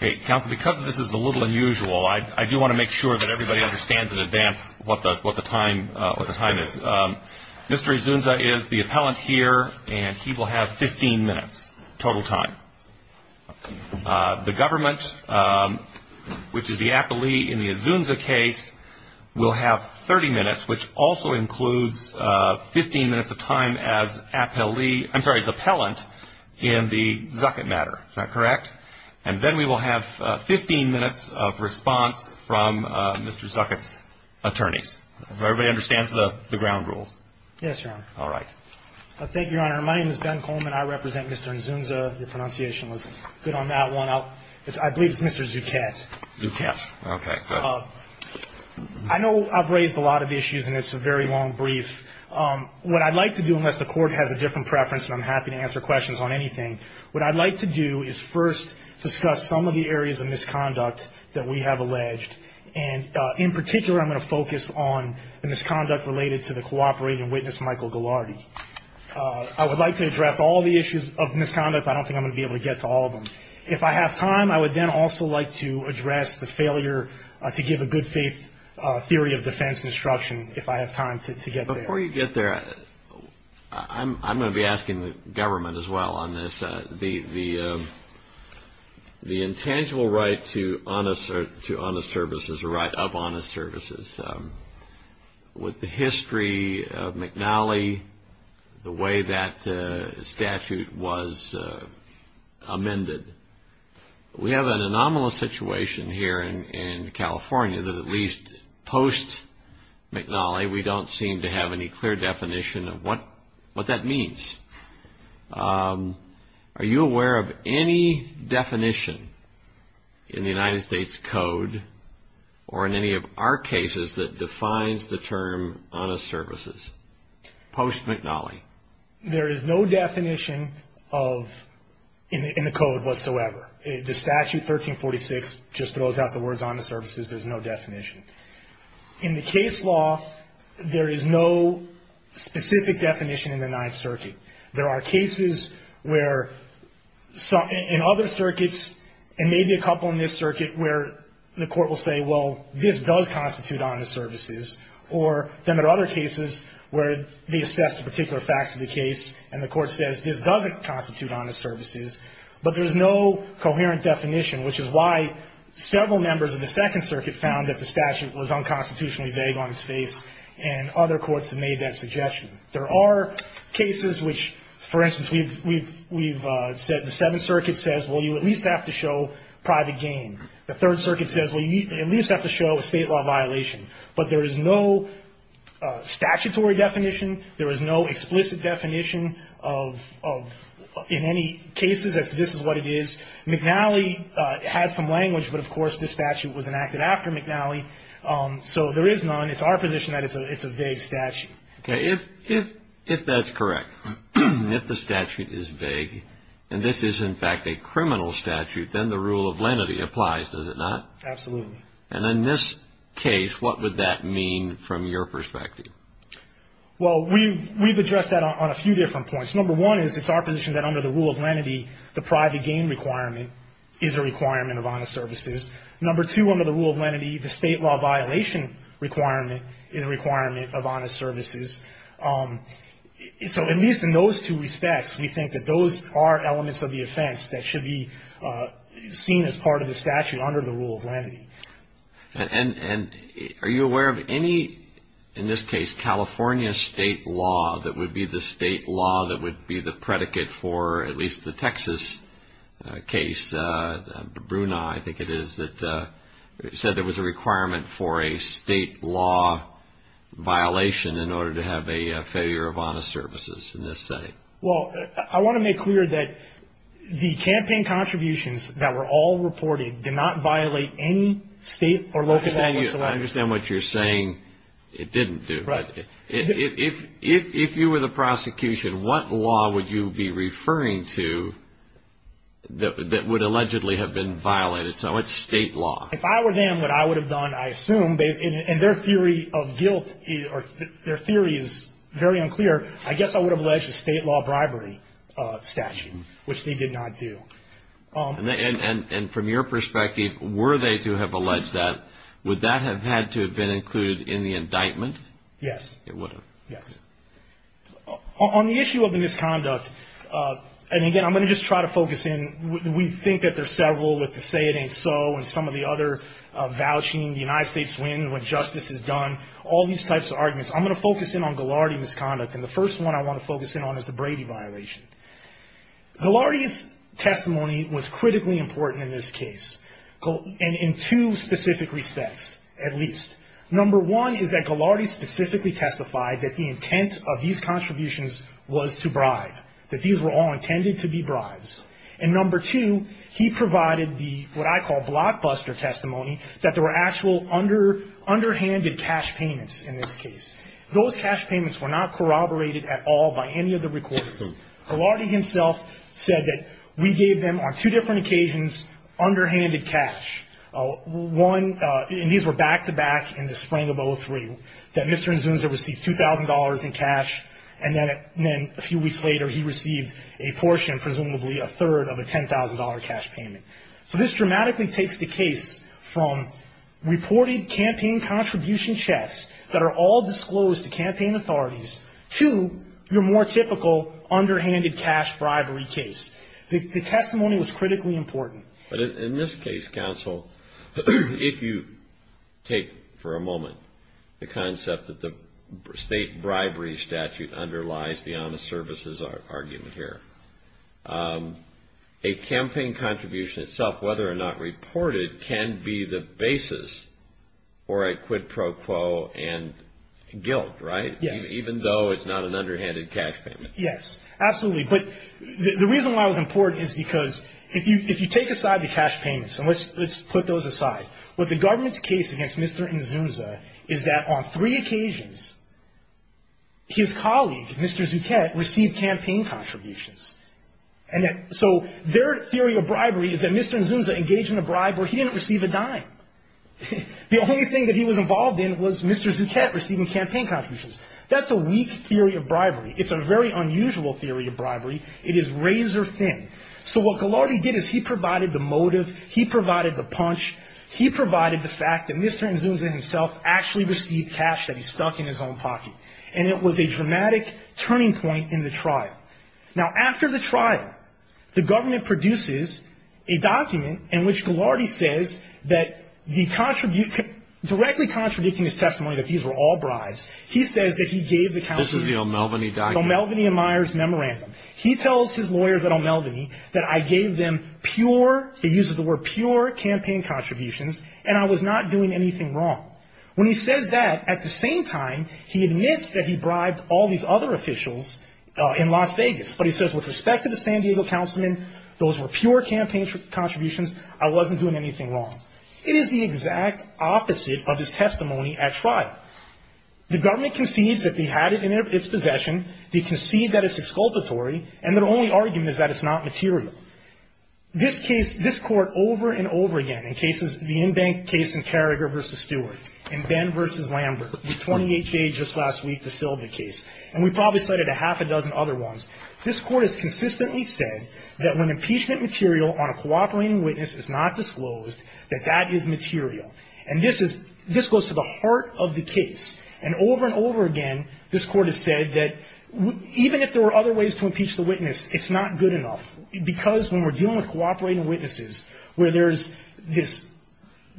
Because this is a little unusual, I do want to make sure that everybody understands in advance what the time is. Mr. Inzunza is the appellant here and he will have 15 minutes total time. The government, which is the appellee in the Inzunza case, will have 30 minutes, which also includes 15 minutes of time as appellant in the Zuckett matter. Is that correct? And then we will have 15 minutes of response from Mr. Zuckett's attorneys. Does everybody understand the ground rules? Yes, Your Honor. All right. Thank you, Your Honor. My name is Ben Coleman. I represent Mr. Inzunza. Your pronunciation was good on that one. I believe it's Mr. Zuckett. Zuckett. Okay, good. I know I've raised a lot of issues and it's a very long brief. What I'd like to do, unless the court has a different preference and I'm happy to answer questions on anything, what I'd like to do is first discuss some of the areas of misconduct that we have alleged. And in particular, I'm going to focus on the misconduct related to the cooperating witness, Michael Ghilardi. I would like to address all the issues of misconduct, but I don't think I'm going to be able to get to all of them. If I have time, I would then also like to address the failure to give a good theory of defense instruction, if I have time to get there. Before you get there, I'm going to be asking the government as well on this. The intangible right to honest service is a right of honest service. With the history of McNally, the way that statute was amended, we have an anomalous situation here in California that at least post-McNally, we don't seem to have any clear definition of what that means. Are you aware of any definition in the United States code or in any of our cases that defines the term honest services post-McNally? There is no definition in the code whatsoever. The statute 1346 just throws out the words honest services. There's no definition. In the case law, there is no specific definition in the Ninth Circuit. There are cases where in other circuits, and maybe a couple in this circuit, where the court will say, well, this does constitute honest services, or there are other cases where they assess the particular facts of the case, and the court says this doesn't constitute honest services, but there's no coherent definition, which is why several members of the Second Circuit found that the statute was unconstitutionally vague on its face, and other courts have made that suggestion. There are cases which, for instance, we've said the Seventh Circuit says, well, you at least have to show private gain. The Third Circuit says, well, you at least have to show state law violation. But there is no statutory definition. There is no explicit definition in any cases that this is what it is. McNally has some language, but, of course, this statute was enacted after McNally, so there is none. It's our position that it's a vague statute. If that's correct, if the statute is vague, and this is, in fact, a criminal statute, then the rule of lenity applies, does it not? Absolutely. And in this case, what would that mean from your perspective? Well, we've addressed that on a few different points. Number one is it's our position that under the rule of lenity, the private gain requirement is a requirement of honest services. Number two, under the rule of lenity, the state law violation requirement is a requirement of honest services. So at least in those two respects, we think that those are elements of the offense that should be seen as part of the statute under the rule of lenity. And are you aware of any, in this case, California state law that would be the state law that would be the predicate for at least the Texas case, Bruna, I think it is, that said there was a requirement for a state law violation in order to have a failure of honest services in this setting? Well, I want to make clear that the campaign contributions that were all reported did not violate any state or local law. I understand what you're saying. It didn't do. Right. If you were the prosecution, what law would you be referring to that would allegedly have been violated so much state law? If I were them, what I would have done, I assume, and their theory of guilt or their theory is very unclear, I guess I would have alleged a state law bribery statute, which they did not do. And from your perspective, were they to have alleged that, would that have had to have been included in the indictment? Yes. It would have. Yes. On the issue of the misconduct, and again, I'm going to just try to focus in, we think that there's several with the say it ain't so and some of the other vouching the United States win when justice is done, all these types of arguments. I'm going to focus in on Ghilardi misconduct, and the first one I want to focus in on is the Brady violation. Ghilardi's testimony was critically important in this case, and in two specific respects, at least. Number one is that Ghilardi specifically testified that the intent of these contributions was to bribe, that these were all intended to be bribes. And number two, he provided the, what I call blockbuster testimony, that there were actual underhanded cash payments in this case. Those cash payments were not corroborated at all by any of the recorders. Ghilardi himself said that we gave them on two different occasions underhanded cash. One, and these were back-to-back in the spring of 2003, that Mr. Nzunza received $2,000 in cash, and then a few weeks later he received a portion, presumably a third, of a $10,000 cash payment. So this dramatically takes the case from reported campaign contribution checks that are all disclosed to campaign authorities, to your more typical underhanded cash bribery case. The testimony was critically important. But in this case, counsel, if you take for a moment the concept that the state bribery statute underlies the honest services argument here, a campaign contribution itself, whether or not reported, can be the basis for a quid pro quo and guilt, right? Yes. Even though it's not an underhanded cash payment. Yes, absolutely. But the reason why it was important is because if you take aside the cash payments, and let's put those aside, what the government's case against Mr. Nzunza is that on three occasions his colleague, Mr. Zuchett, received campaign contributions. And so their theory of bribery is that Mr. Nzunza engaged in a bribe where he didn't receive a dime. The only thing that he was involved in was Mr. Zuchett receiving campaign contributions. That's a weak theory of bribery. It's a very unusual theory of bribery. It is razor thin. So what Ghilardi did is he provided the motive, he provided the punch, he provided the fact that Mr. Nzunza himself actually received cash that he stuck in his own pocket. And it was a dramatic turning point in the trial. Now, after the trial, the government produces a document in which Ghilardi says that directly contradicting his testimony that these were all bribes, he says that he gave the councilman... This is the O'Melveny document. O'Melveny and Myers Memorandum. He tells his lawyers at O'Melveny that I gave them pure, he uses the word pure, campaign contributions, and I was not doing anything wrong. When he says that, at the same time, he admits that he bribed all these other officials in Las Vegas. But he says with respect to the San Diego councilman, those were pure campaign contributions, I wasn't doing anything wrong. It is the exact opposite of his testimony at trial. The government concedes that they had it in its possession, they concede that it's exculpatory, and their only argument is that it's not material. This case, this court over and over again, the in-bank case in Carragher v. Stewart, and then v. Lambert, the 28K just last week, the Sylvan case, and we've probably cited a half a dozen other ones, this court has consistently said that when impeachment material on a cooperating witness is not disclosed, that that is material. And this goes to the heart of the case. And over and over again, this court has said that even if there were other ways to impeach the witness, it's not good enough. Because when we're dealing with cooperating witnesses, where there's this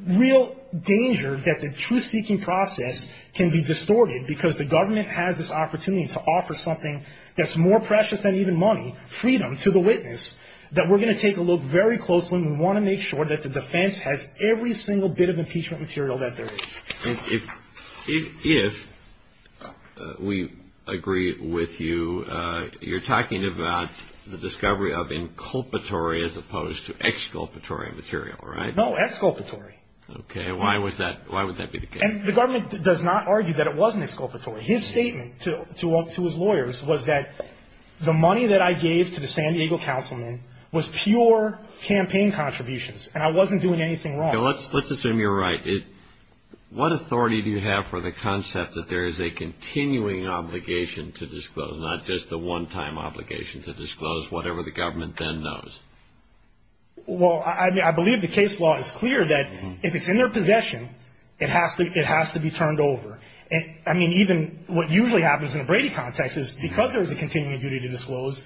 real danger that the truth-seeking process can be distorted because the government has this opportunity to offer something that's more precious than even money, freedom, to the witness, that we're going to take a look very closely, and we want to make sure that the defense has every single bit of impeachment material that there is. If we agree with you, you're talking about the discovery of inculpatory as opposed to exculpatory material, right? No, exculpatory. Okay, why would that be the case? The government does not argue that it wasn't exculpatory. His statement to his lawyers was that the money that I gave to the San Diego councilman was pure campaign contributions, and I wasn't doing anything wrong. Let's assume you're right. What authority do you have for the concept that there is a continuing obligation to disclose, not just a one-time obligation to disclose whatever the government then knows? Well, I believe the case law is clear that if it's in their possession, it has to be turned over. I mean, even what usually happens in the Brady context is because there is a continuing duty to disclose,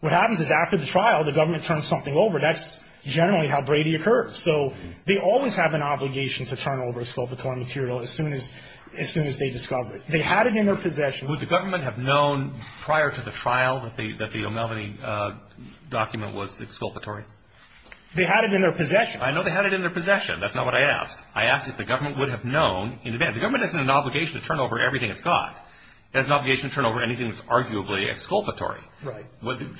what happens is after the trial, the government turns something over. That's generally how Brady occurs. So they always have an obligation to turn over exculpatory material as soon as they discover it. They had it in their possession. Would the government have known prior to the trial that the O'Melveny document was exculpatory? They had it in their possession. I know they had it in their possession. That's not what I asked. I asked if the government would have known in advance. The government doesn't have an obligation to turn over everything it's got. It has an obligation to turn over anything that's arguably exculpatory. Right.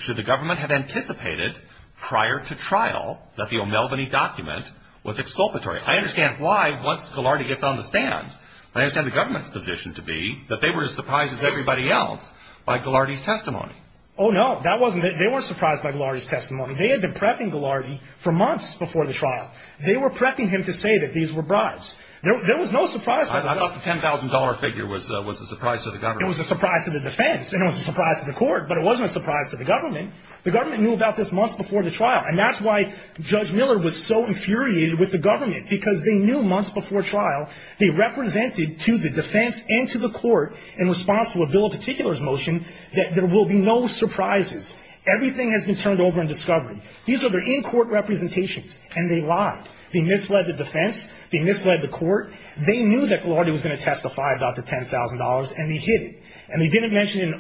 Should the government have anticipated prior to trial that the O'Melveny document was exculpatory? I understand why once Gillardy gets on the stand. I understand the government's position to be that they were as surprised as everybody else by Gillardy's testimony. Oh, no. That wasn't it. They weren't surprised by Gillardy's testimony. They had been prepping Gillardy for months before the trial. They were prepping him to say that these were bribes. There was no surprise. I thought the $10,000 figure was a surprise to the government. It was a surprise to the defense. It was a surprise to the court. But it wasn't a surprise to the government. The government knew about this months before the trial, and that's why Judge Miller was so infuriated with the government because they knew months before trial. They represented to the defense and to the court in response to a bill of particulars motion that there will be no surprises. Everything has been turned over and discovered. These are their in-court representations, and they lied. They misled the defense. They misled the court. They knew that Gillardy was going to testify about the $10,000, and they hid it. And they didn't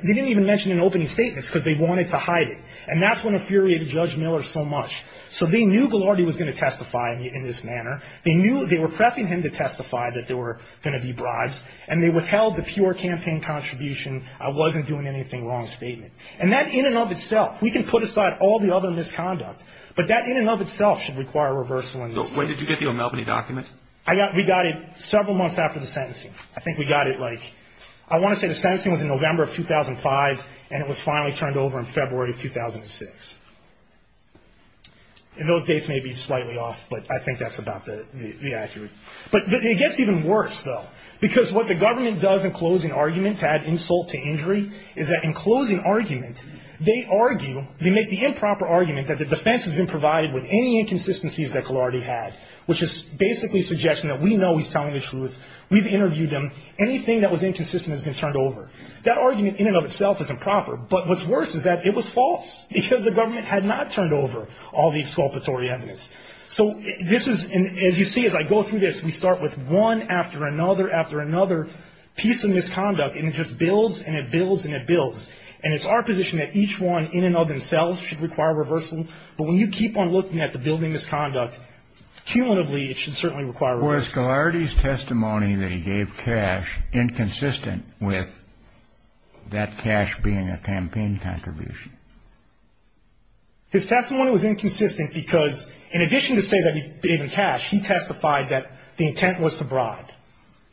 even mention it in opening statements because they wanted to hide it. And that's when it infuriated Judge Miller so much. So they knew Gillardy was going to testify in this manner. They knew they were prepping him to testify that there were going to be bribes, and they withheld the pure campaign contribution, I wasn't doing anything wrong statement. And that in and of itself, we can put aside all the other misconduct, but that in and of itself should require a reversal in this case. When did you get the O'Malley document? We got it several months after the sentencing. I think we got it, like, I want to say the sentencing was in November of 2005, and it was finally turned over in February of 2006. And those dates may be slightly off, but I think that's about the accurate. But it gets even worse, though, because what the government does in closing arguments to add insult to injury is that in closing arguments, they argue, they make the improper argument that the defense has been provided with any inconsistencies that Gillardy had, which is basically a suggestion that we know he's telling the truth, we've interviewed him, anything that was inconsistent has been turned over. That argument in and of itself is improper, but what's worse is that it was false, because the government had not turned over all the exculpatory evidence. So this is, as you see as I go through this, we start with one after another after another piece of misconduct, and it just builds and it builds and it builds. And it's our position that each one in and of themselves should require reversal, but when you keep on looking at the building of misconduct, cumulatively it should certainly require reversal. Was Gillardy's testimony that he gave cash inconsistent with that cash being a campaign contribution? His testimony was inconsistent because in addition to saying that he gave him cash, he testified that the intent was to bribe.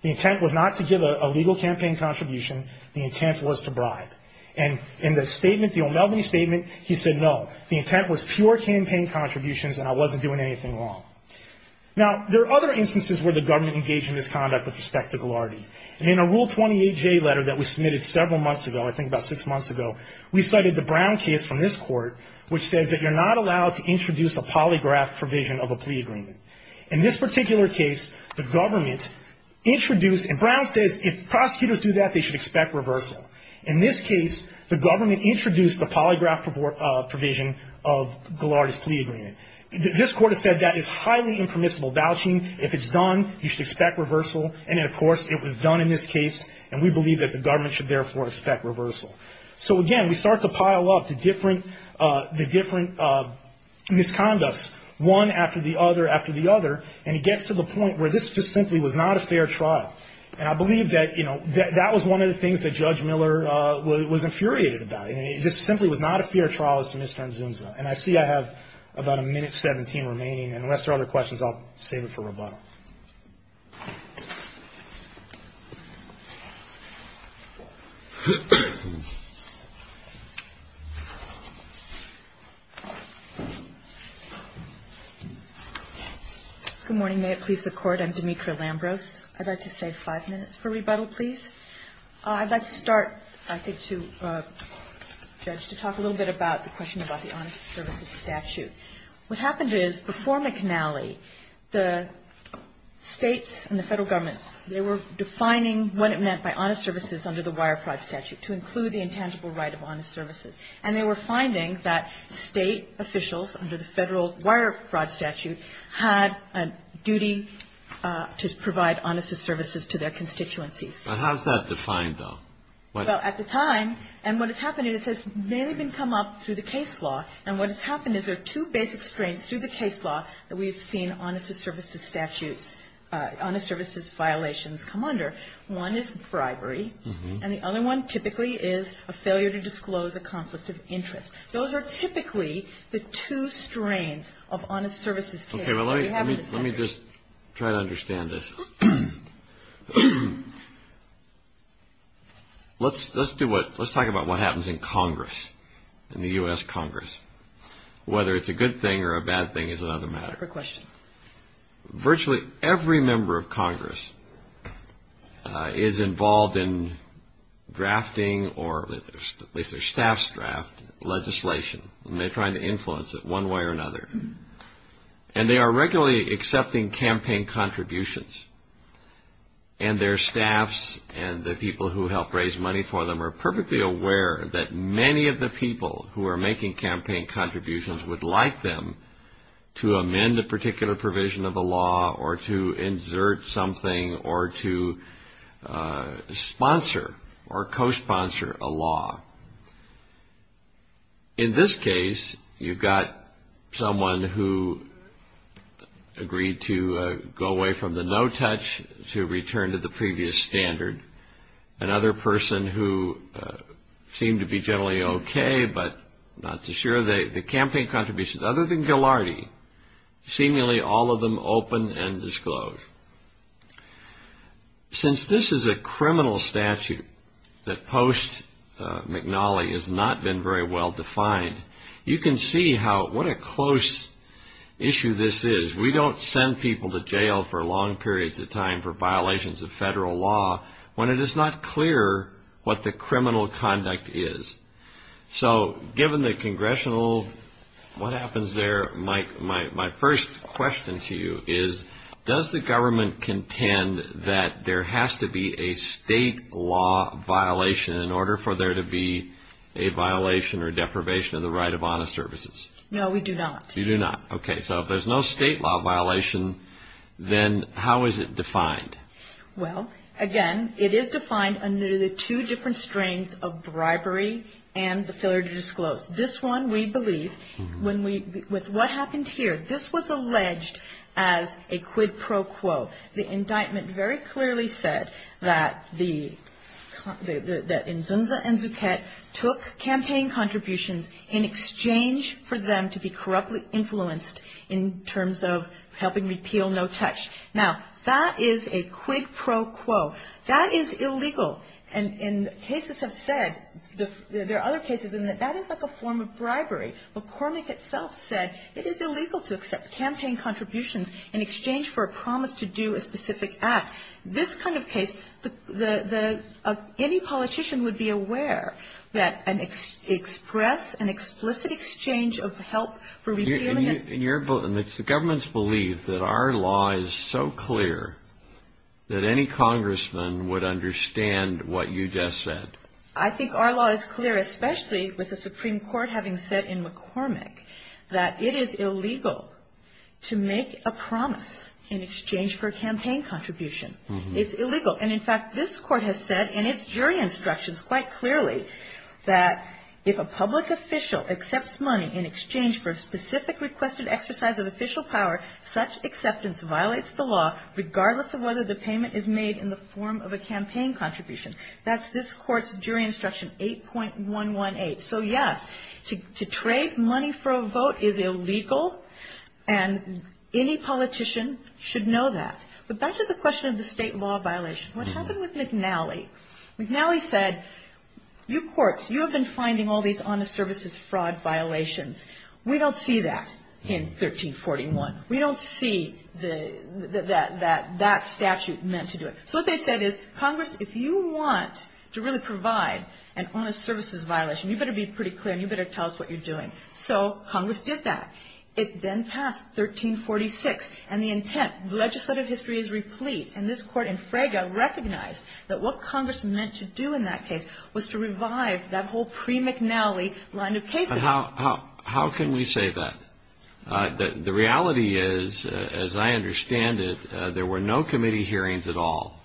The intent was not to give a legal campaign contribution. The intent was to bribe. And in the statement, the O'Melveny statement, he said, no, the intent was pure campaign contributions and I wasn't doing anything wrong. Now, there are other instances where the government engaged in misconduct with respect to Gillardy. In a Rule 28J letter that was submitted several months ago, I think about six months ago, we cited the Brown case from this court, which says that you're not allowed to introduce a polygraph provision of a plea agreement. In this particular case, the government introduced, and Brown says if prosecutors do that, they should expect reversal. In this case, the government introduced the polygraph provision of Gillardy's plea agreement. This court has said that is highly impermissible vouching. If it's done, you should expect reversal, and, of course, it was done in this case and we believe that the government should therefore expect reversal. So, again, we start to pile up the different misconducts, one after the other after the other, and it gets to the point where this just simply was not a fair trial. And I believe that, you know, that was one of the things that Judge Miller was infuriated about. I mean, it just simply was not a fair trial as to Mr. Nzunza. And I see I have about a minute 17 remaining, and unless there are other questions, I'll save it for rebuttal. Thank you. Good morning. May it please the Court? I'm Demetria Lambros. I'd like to save five minutes for rebuttal, please. I'd like to start, I think, to talk a little bit about the question about the honest services statute. What happened is, before McNally, the states and the federal government, they were defining what it meant by honest services under the wire fraud statute, to include the intangible right of honest services. And they were finding that state officials, under the federal wire fraud statute, had a duty to provide honest services to their constituencies. Now, how is that defined, though? Well, at the time, and what has happened is, it's mainly been come up through the case law. And what has happened is, there are two basic strengths through the case law that we've seen honest services statutes, honest services violations come under. One is bribery. And the other one, typically, is a failure to disclose a conflict of interest. Those are typically the two strengths of honest services. Let me just try to understand this. Let's talk about what happens in Congress, in the U.S. Congress. Whether it's a good thing or a bad thing is another matter. Virtually every member of Congress is involved in drafting, or at least their staffs draft, legislation. And they're trying to influence it one way or another. And they are regularly accepting campaign contributions. And their staffs, and the people who help raise money for them, are perfectly aware that many of the people who are making campaign contributions would like them to amend a particular provision of the law, or to insert something, or to sponsor or co-sponsor a law. In this case, you've got someone who agreed to go away from the no-touch to return to the previous standard. Another person who seemed to be generally okay, but not too sure. The campaign contributions, other than Gilardi, seemingly all of them open and disclosed. Since this is a criminal statute that post-McNally has not been very well defined, you can see how, what a close issue this is. We don't send people to jail for long periods of time for violations of federal law when it is not clear what the criminal conduct is. So, given the congressional, what happens there, my first question to you is, does the government contend that there has to be a state law violation in order for there to be a violation or deprivation of the right of honest services? No, we do not. You do not. Okay. So, if there's no state law violation, then how is it defined? Well, again, it is defined under the two different strains of bribery and the failure to disclose. This one, we believe, when we, with what happened here, this was alleged as a quid pro quo. The indictment very clearly said that the, that Nzunza and Zuckett took campaign contributions in exchange for them to be corruptly influenced in terms of helping repeal No Touch. Now, that is a quid pro quo. That is illegal, and cases have said, there are other cases, and that is like a form of bribery. McCormick itself said it is illegal to accept campaign contributions in exchange for a promise to do a specific act. This kind of case, the, the, any politician would be aware that an express, an explicit exchange of help for revealing it. And your, the government's belief that our law is so clear that any congressman would understand what you just said. I think our law is clear, especially with the Supreme Court having said in McCormick that it is illegal to make a promise in exchange for a campaign contribution. It's illegal. And, in fact, this court has said in its jury instructions quite clearly that if a public official accepts money in exchange for a specific requested exercise of official power, such acceptance violates the law, regardless of whether the payment is made in the form of a campaign contribution. That's this court's jury instruction, 8.118. So, yes, to, to trade money for a vote is illegal, and any politician should know that. But back to the question of the state law violation, what happened with McNally? McNally said, you courts, you have been finding all these honest services fraud violations. We don't see that in 1341. We don't see the, the, that, that, that statute meant to do it. So, what they said is, Congress, if you want to really provide an honest services violation, you better be pretty clear and you better tell us what you're doing. So, Congress did that. It then passed 1346, and the intent, legislative history is replete, and this court in Fraga recognized that what Congress meant to do in that case was to revive that whole pre-McNally line of policing. How, how, how can we say that? The reality is, as I understand it, there were no committee hearings at all.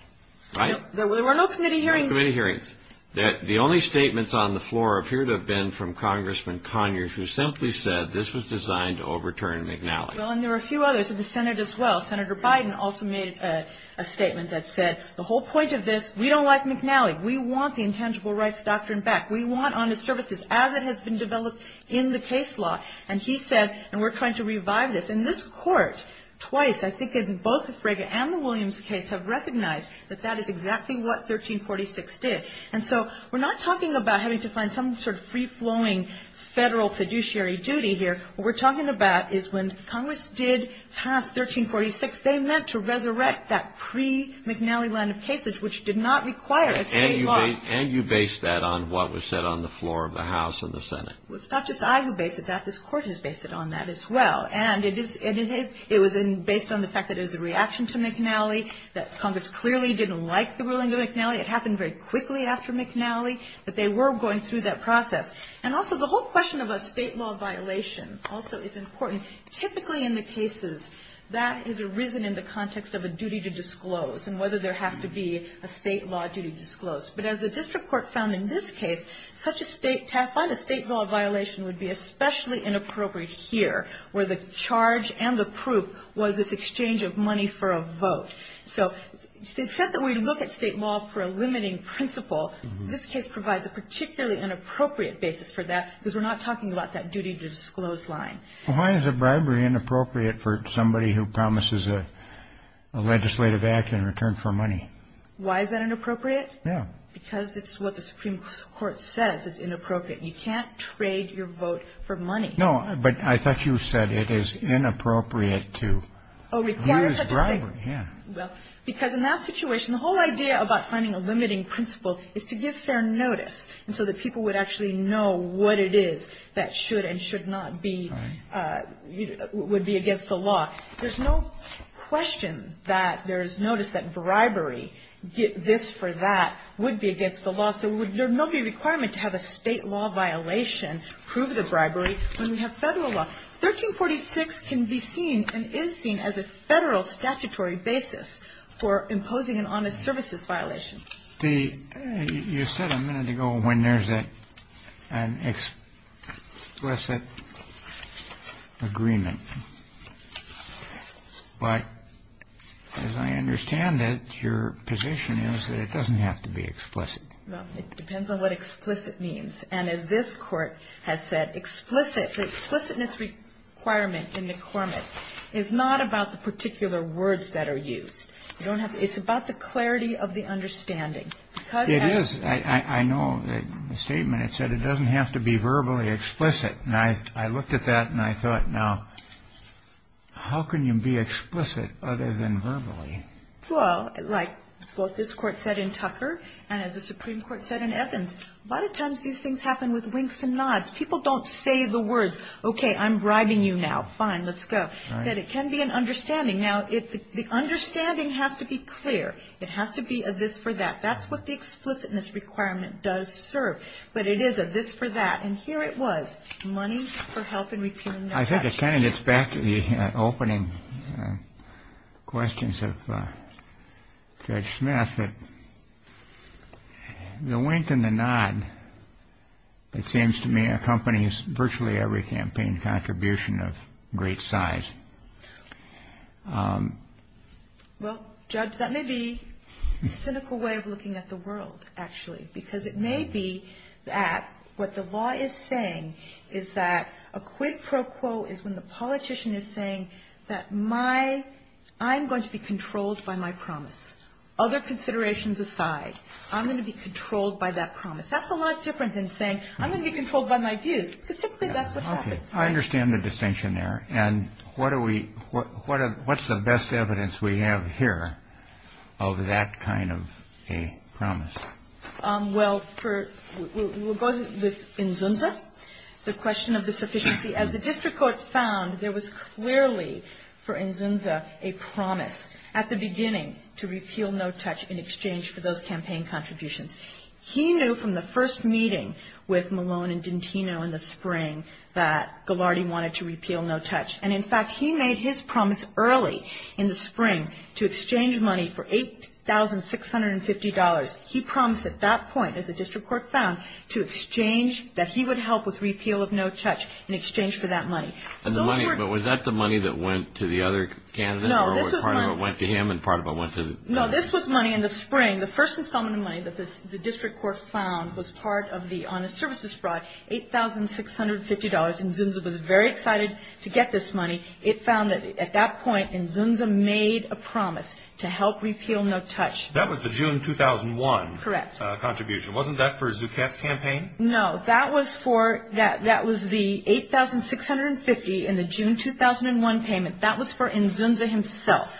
Right? There were no committee hearings. No committee hearings. The only statements on the floor appear to have been from Congressman Conyers, who simply said this was designed to overturn McNally. Well, and there were a few others in the Senate as well. Senator Biden also made a statement that said the whole point of this, we don't like McNally. We want the intangible rights doctrine back. We want honest services as it has been developed in the case law. And he said, and we're trying to revive this. In this court, twice, I think in both the Fraga and the Williams case, have recognized that that is exactly what 1346 did. And so, we're not talking about having to find some sort of free-flowing federal fiduciary duty here. What we're talking about is when Congress did pass 1346, they meant to resurrect that pre-McNally line of cases, which did not require it. And you based that on what was said on the floor of the House and the Senate. It's not just I who based it. This court has based it on that as well. And it was based on the fact that there's a reaction to McNally, that Congress clearly didn't like the ruling of McNally. It happened very quickly after McNally, but they were going through that process. And also, the whole question about state law violations also is important. Typically in the cases, that has arisen in the context of a duty to disclose and whether there has to be a state law duty disclosed. But as the district court found in this case, I find a state law violation would be especially inappropriate here, where the charge and the proof was this exchange of money for a vote. So, it's said that we look at state law for a limiting principle. This case provides a particularly inappropriate basis for that because we're not talking about that duty to disclose line. Why is it, by the way, inappropriate for somebody who promises a legislative action in return for money? Why is that inappropriate? Yeah. Because it's what the Supreme Court says is inappropriate. You can't trade your vote for money. No, but I thought you said it is inappropriate to use bribery. Yeah. Because in that situation, the whole idea about finding a limiting principle is to give fair notice so that people would actually know what it is that should and should not be, would be against the law. There's no question that there's notice that bribery, this for that, would be against the law. So, would there not be a requirement to have a state law violation prove the bribery when we have federal law? 1346 can be seen and is seen as a federal statutory basis for imposing an honest services violation. You said a minute ago when there's an explicit agreement. But as I understand it, your position is that it doesn't have to be explicit. Well, it depends on what explicit means. And as this Court has said, explicit, the explicitness requirement in the requirement, is not about the particular words that are used. It's about the clarity of the understanding. It is. I know the statement, it said it doesn't have to be verbally explicit. And I looked at that and I thought, now, how can you be explicit other than verbally? Well, like what this Court said in Tucker, and as the Supreme Court said in Essence, a lot of times these things happen with winks and nods. People don't say the words, okay, I'm bribing you now. Fine, let's go. But it can be an understanding. Now, the understanding has to be clear. It has to be a this for that. That's what the explicitness requirement does serve. But it is a this for that. And here it was, money for help in repealing that. I think it kind of gets back to the opening questions of Judge Smith. The wink and the nod, it seems to me, accompanies virtually every campaign contribution of great size. Well, Judge, that may be a cynical way of looking at the world, actually. Because it may be that what the law is saying is that a quid pro quo is when the politician is saying that my, I'm going to be controlled by my promises. Other considerations aside, I'm going to be controlled by that promise. That's a lot different than saying, I'm going to be controlled by my views. Specifically, that's what happens. Okay. I understand the distinction there. And what are we, what's the best evidence we have here of that kind of a promise? Well, for, we'll go to Inzunza, the question of the sufficiency. As the district court found, there was clearly, for Inzunza, a promise at the beginning to repeal No Touch in exchange for those campaign contributions. He knew from the first meeting with Malone and Dintino in the spring that Ghilardi wanted to repeal No Touch. And, in fact, he made his promise early in the spring to exchange money for $8,650. He promised at that point, as the district court found, to exchange, that he would help with repeal of No Touch in exchange for that money. And the money, but was that the money that went to the other candidate? No, this was money. Or part of it went to him and part of it went to? No, this was money in the spring. The first installment of money that the district court found was part of the honest services fraud, $8,650. And Inzunza was very excited to get this money. It found that, at that point, Inzunza made a promise to help repeal No Touch. That was the June 2001 contribution. Correct. Wasn't that for Zucker's campaign? No, that was the $8,650 in the June 2001 payment. That was for Inzunza himself.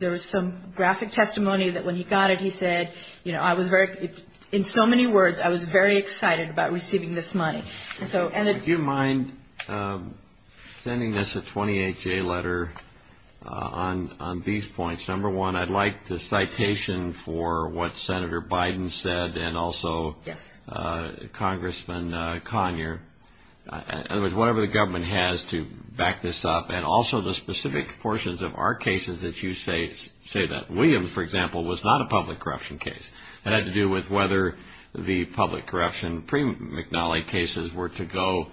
There was some graphic testimony that when he got it, he said, you know, I was very – in so many words, I was very excited about receiving this money. And so – Would you mind sending us a 28-day letter on these points? Number one, I'd like the citation for what Senator Biden said and also Congressman Conyer. Whatever the government has to back this up and also the specific portions of our cases that you say that. William, for example, was not a public corruption case. It had to do with whether the public corruption pre-McNally cases were to go,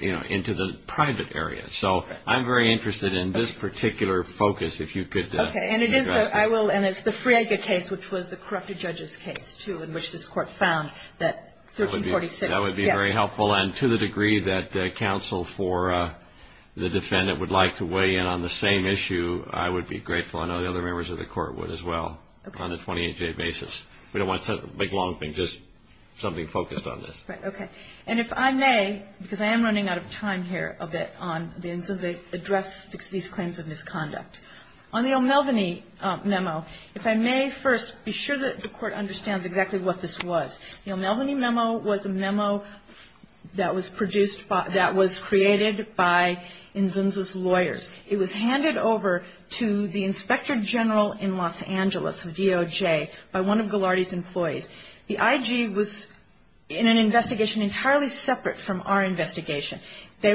you know, into the private area. So I'm very interested in this particular focus, if you could address that. Okay. And it is – I will – and it's the Friega case, which was the corrupted judge's case, too, in which this court found that 1346 – That would be very helpful. And to the degree that counsel for the defendant would like to weigh in on the same issue, I would be grateful. I know the other members of the court would as well on a 28-day basis. We don't want a big, long thing, just something focused on this. Right. Okay. And if I may, because I am running out of time here a bit on the – address these claims of misconduct. On the O'Melveny memo, if I may first be sure that the court understands exactly what this was. The O'Melveny memo was a memo that was produced by – that was created by NZIMS's lawyers. It was handed over to the Inspector General in Los Angeles, DOJ, by one of Ghilardi's employees. The IG was in an investigation entirely separate from our investigation. They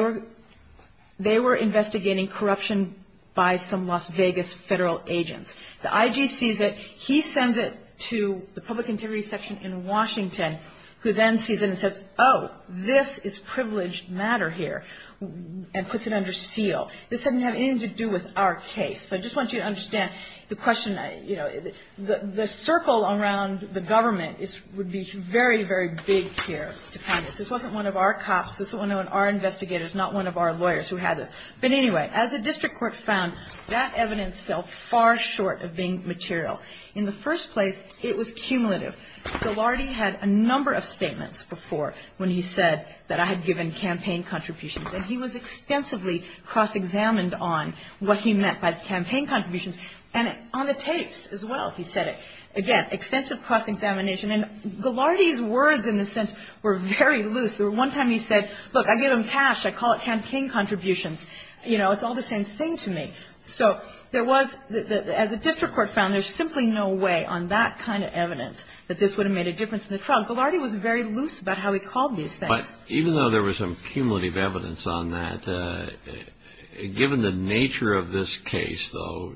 were investigating corruption by some Las Vegas federal agents. The IG sees it. He sends it to the public integrity section in Washington, who then sees it and says, oh, this is privileged matter here, and puts it under seal. This doesn't have anything to do with our case. I just want you to understand the question – the circle around the government would be very, very big here. This wasn't one of our cops. This wasn't one of our investigators, not one of our lawyers who had it. But anyway, as the district court found, that evidence fell far short of being material. In the first place, it was cumulative. Ghilardi had a number of statements before when he said that I had given campaign contributions. And he was extensively cross-examined on what he meant by campaign contributions. And on the tapes as well, he said it. Again, extensive cross-examination. And Ghilardi's words, in a sense, were very loose. There was one time he said, look, I give them cash. I call it campaign contributions. You know, it's all the same thing to me. So there was – as the district court found, there's simply no way on that kind of evidence that this would have made a difference in the trial. Ghilardi was very loose about how he called these things. Even though there was some cumulative evidence on that, given the nature of this case, though,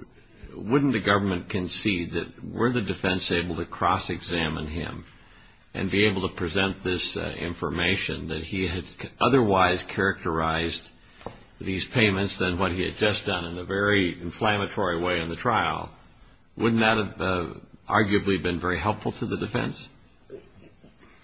wouldn't the government concede that were the defense able to cross-examine him and be able to present this information that he had otherwise characterized these payments than what he had just done in a very inflammatory way in the trial, wouldn't that have arguably been very helpful to the defense?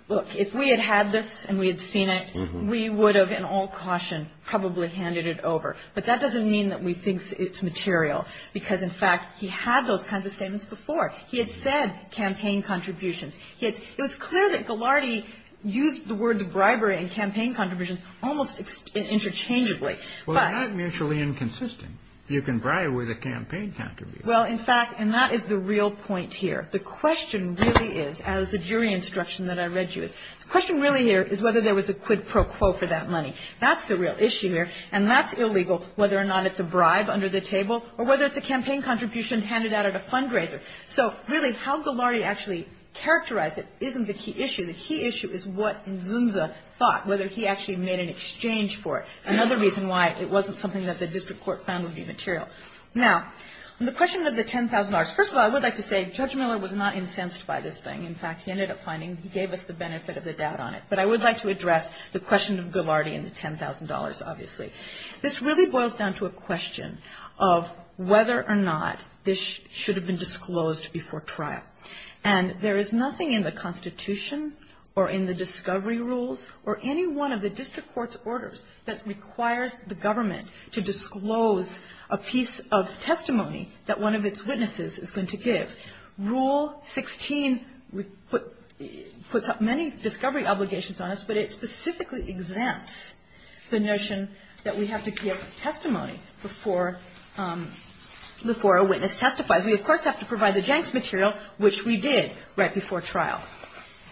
Look, if we had had this and we had seen it, we would have, in all caution, probably handed it over. But that doesn't mean that we think it's material. Because, in fact, he had those kinds of statements before. He had said campaign contributions. It was clear that Ghilardi used the words bribery and campaign contributions almost interchangeably. Well, they're not mutually inconsistent. You can bribe with a campaign contribution. Well, in fact – and that is the real point here. The question really is, as the jury instruction that I read you, the question really here is whether there was a quid pro quo for that money. That's the real issue here. And that's illegal, whether or not it's a bribe under the table or whether it's a campaign contribution handed out at a fundraiser. So, really, how Ghilardi actually characterized it isn't the key issue. The key issue is what Ngunza thought, whether he actually made an exchange for it, another reason why it wasn't something that the district court found would be material. Now, the question of the $10,000. First of all, I would like to say Judge Miller was not incensed by this thing. In fact, he ended up finding he gave us the benefit of the doubt on it. But I would like to address the question of Ghilardi and the $10,000, obviously. This really boils down to a question of whether or not this should have been disclosed before trial. And there is nothing in the Constitution or in the discovery rules or any one of the district court's orders that requires the government to disclose a piece of testimony that one of its witnesses is going to give. Rule 16 puts up many discovery obligations on us, but it specifically exempts the notion that we have to create testimony before a witness testifies. We, of course, have to provide the jank material, which we did right before trial.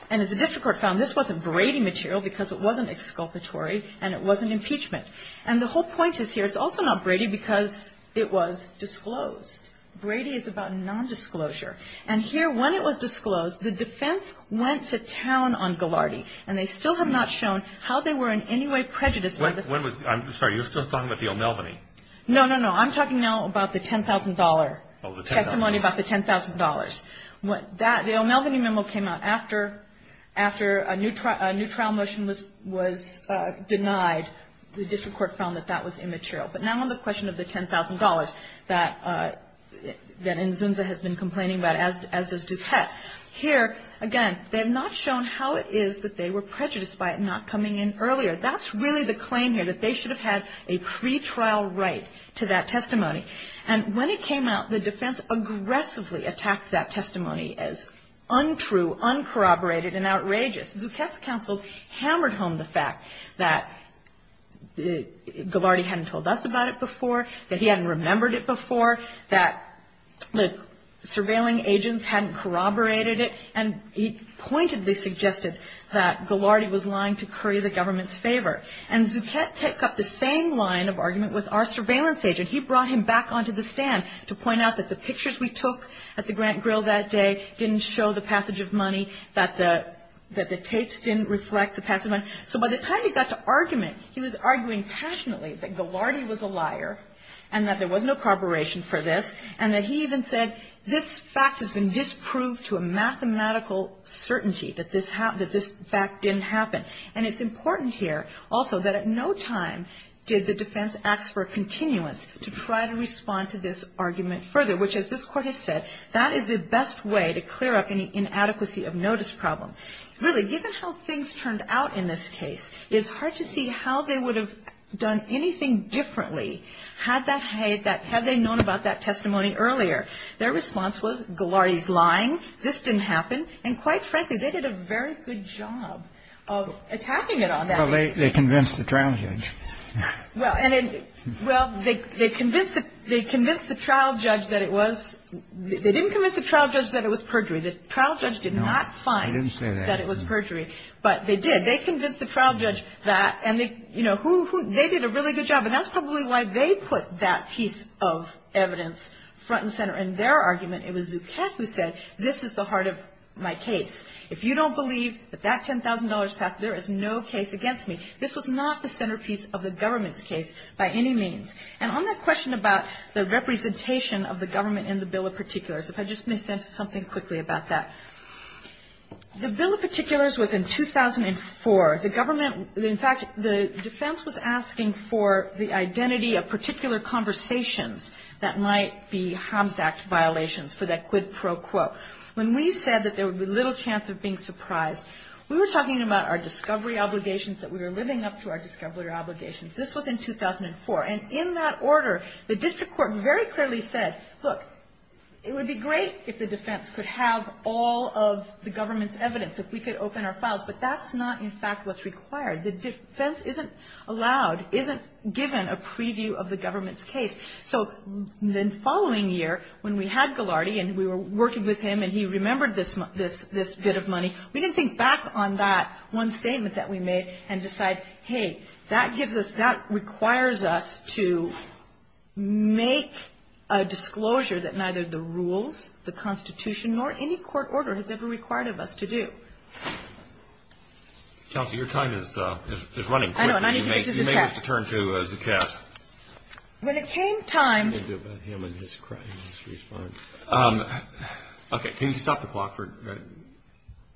And as the district court found, this wasn't braiding material because it wasn't exculpatory and it wasn't impeachment. And the whole point is here, it's also not braided because it was disclosed. Braiding is about nondisclosure. And here, when it was disclosed, the defense went to town on Ghilardi, and they still have not shown how they were in any way prejudiced. I'm sorry, you're still talking about the O'Melveny? No, no, no. I'm talking now about the $10,000 testimony, about the $10,000. The O'Melveny memo came out after a new trial motion was denied. The district court found that that was immaterial. But now on the question of the $10,000 that Nzunza has been complaining about as this detects, here, again, they have not shown how it is that they were prejudiced by it not coming in earlier. That's really the claim here, that they should have had a pretrial right to that testimony. And when it came out, the defense aggressively attacked that testimony as untrue, uncorroborated, and outrageous. Zucchett's counsel hammered home the fact that Ghilardi hadn't told us about it before, that he hadn't remembered it before, that the surveilling agents hadn't corroborated it, and he pointedly suggested that Ghilardi was lying to curry the government's favor. And Zucchett picked up the same line of argument with our surveillance agent. He brought him back onto the stand to point out that the pictures we took at the Grant Grill that day didn't show the passage of money, that the tapes didn't reflect the passage of money. So by the time he got to argument, he was arguing passionately that Ghilardi was a liar and that there was no corroboration for this, and that he even said, this fact has been disproved to a mathematical certainty that this fact didn't happen. And it's important here also that at no time did the defense ask for a continuance to try to respond to this argument further, which as this court has said, that is the best way to clear up an inadequacy of notice problem. Really, given how things turned out in this case, it's hard to see how they would have done anything differently had they known about that testimony earlier. Their response was, Ghilardi's lying, this didn't happen. And quite frankly, they did a very good job of attacking it on that. Well, they convinced the trial judge. Well, they convinced the trial judge that it was – they didn't convince the trial judge that it was perjury. The trial judge did not find that it was perjury, but they did. They convinced the trial judge that – and they did a really good job. And that's probably why they put that piece of evidence front and center in their argument. It was Duquesne who said, this is the heart of my case. If you don't believe that that $10,000 passed, there is no case against me. This was not the centerpiece of the government's case by any means. And on that question about the representation of the government in the Bill of Particulars, if I just may say something quickly about that. The Bill of Particulars was in 2004. The government – in fact, the defense was asking for the identity of particular conversations that might be HOMS Act violations for that quid pro quo. When we said that there would be little chance of being surprised, we were talking about our discovery obligations, that we were living up to our discovery obligations. This was in 2004. And in that order, the district court very clearly said, look, it would be great if the defense could have all of the government's evidence, if we could open our files. But that's not, in fact, what's required. The defense isn't allowed, isn't given a preview of the government's case. So the following year, when we had Ghilardi and we were working with him and he remembered this bit of money, we didn't think back on that one statement that we made and decide, hey, that requires us to make a disclosure that neither the rules, the Constitution, nor any court order has ever required of us to do. Kelsey, your time is running quickly. I know, and I need to get to the text. You may have to turn to the text. When it came time – I can't do it without him and his cry and his response. Okay, can you stop the clock for a minute?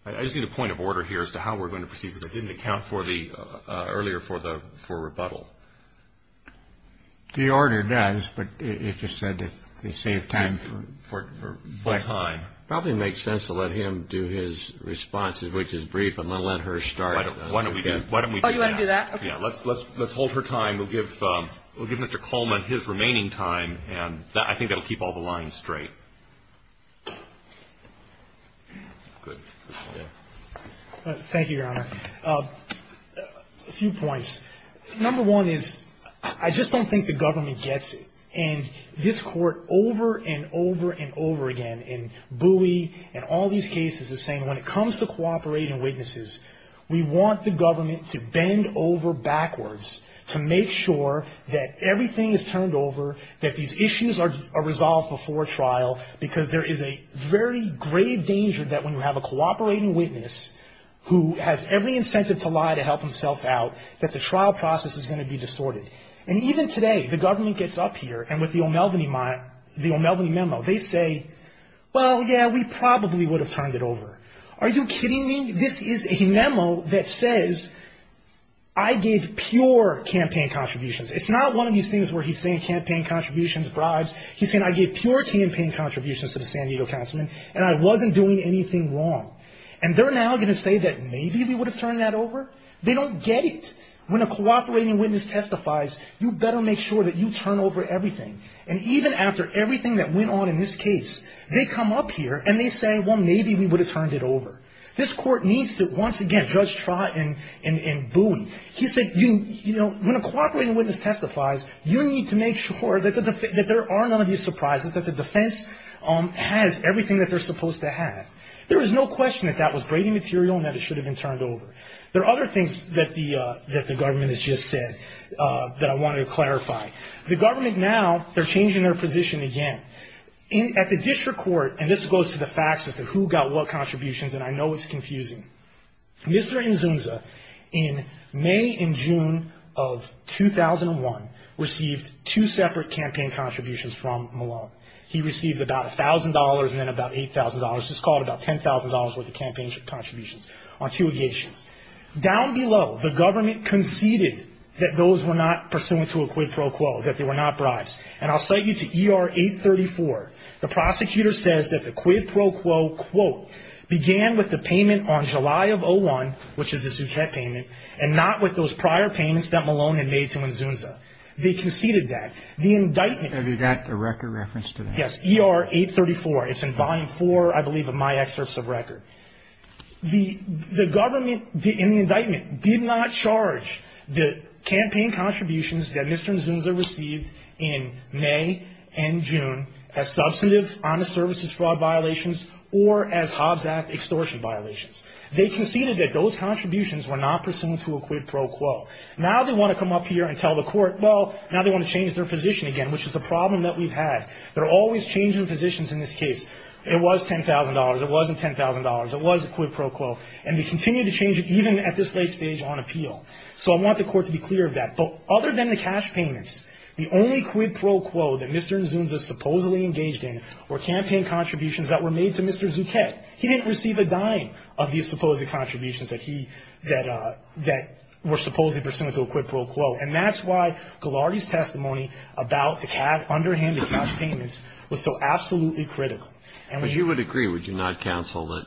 I just need a point of order here as to how we're going to proceed with it. It didn't account for the – earlier for the rebuttal. The order does, but it just said to save time for questions. It probably makes sense to let him do his response, which is brief, and then let her start. Why don't we do that? Oh, you want to do that? Let's hold her time. We'll give Mr. Coleman his remaining time, and I think that will keep all the lines straight. Thank you, Your Honor. A few points. Number one is, I just don't think the government gets it. And this Court over and over and over again, in Bowie and all these cases, is saying, when it comes to cooperating witnesses, we want the government to bend over backwards to make sure that everything is turned over, that these issues are resolved before trial, because there is a very grave danger that when you have a cooperating witness who has every incentive to lie to help himself out, that the trial process is going to be distorted. And even today, the government gets up here, and with the O'Melveny memo, they say, well, yeah, we probably would have turned it over. Are you kidding me? This is a memo that says, I gave pure campaign contributions. It's not one of these things where he's saying campaign contributions, bribes. He's saying, I gave pure campaign contributions to the San Diego Councilman, and I wasn't doing anything wrong. And they're now going to say that maybe we would have turned that over? They don't get it. When a cooperating witness testifies, you better make sure that you turn over everything. And even after everything that went on in this case, they come up here and they say, well, maybe we would have turned it over. This Court needs to, once again, judge Trott and Bowie. When a cooperating witness testifies, you need to make sure that there are none of these surprises, that the defense has everything that they're supposed to have. There is no question that that was brainy material and that it should have been turned over. There are other things that the government has just said that I wanted to clarify. The government now, they're changing their position again. At the district court, and this goes to the facts as to who got what contributions, and I know it's confusing, Mr. Inzunza, in May and June of 2001, received two separate campaign contributions from Malone. He received about $1,000 and then about $8,000. It's called about $10,000 worth of campaign contributions on two occasions. Down below, the government conceded that those were not pursuant to a quid pro quo, that they were not bribes. And I'll cite you to ER 834. The prosecutor says that the quid pro quo, quote, began with the payment on July of 2001, which is a subject payment, and not with those prior payments that Malone had made to Inzunza. They conceded that. Have you got the record reference to that? Yes, ER 834. It's in Volume 4, I believe, of my excerpts of record. The government, in the indictment, did not charge the campaign contributions that Mr. Inzunza received in May and June as substantive, honest services fraud violations or as Hobbs Act extortion violations. They conceded that those contributions were not pursuant to a quid pro quo. Now they want to come up here and tell the court, well, now they want to change their position again, which is the problem that we've had. They're always changing positions in this case. It was $10,000. It wasn't $10,000. It was a quid pro quo. And they continue to change it, even at this late stage on appeal. So I want the court to be clear of that. But other than the cash payments, the only quid pro quo that Mr. Inzunza supposedly engaged in were campaign contributions that were made to Mr. Zucchetti. He didn't receive a dime of the supposed contributions that he, that were supposedly pursuant to a quid pro quo. And that's why Ghilardi's testimony about the underhanded cash payments was so absolutely critical. If you would agree, would you not, counsel, that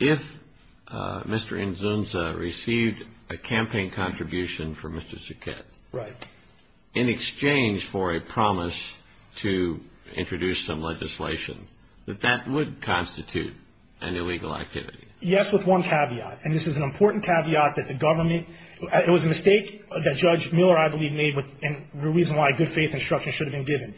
if Mr. Inzunza received a campaign contribution from Mr. Zucchetti, in exchange for a promise to introduce some legislation, that that would constitute an illegal activity? Yes, with one caveat. And this is an important caveat that the government, it was a mistake that Judge Miller, I believe, made, and the reason why good faith instruction should have been given.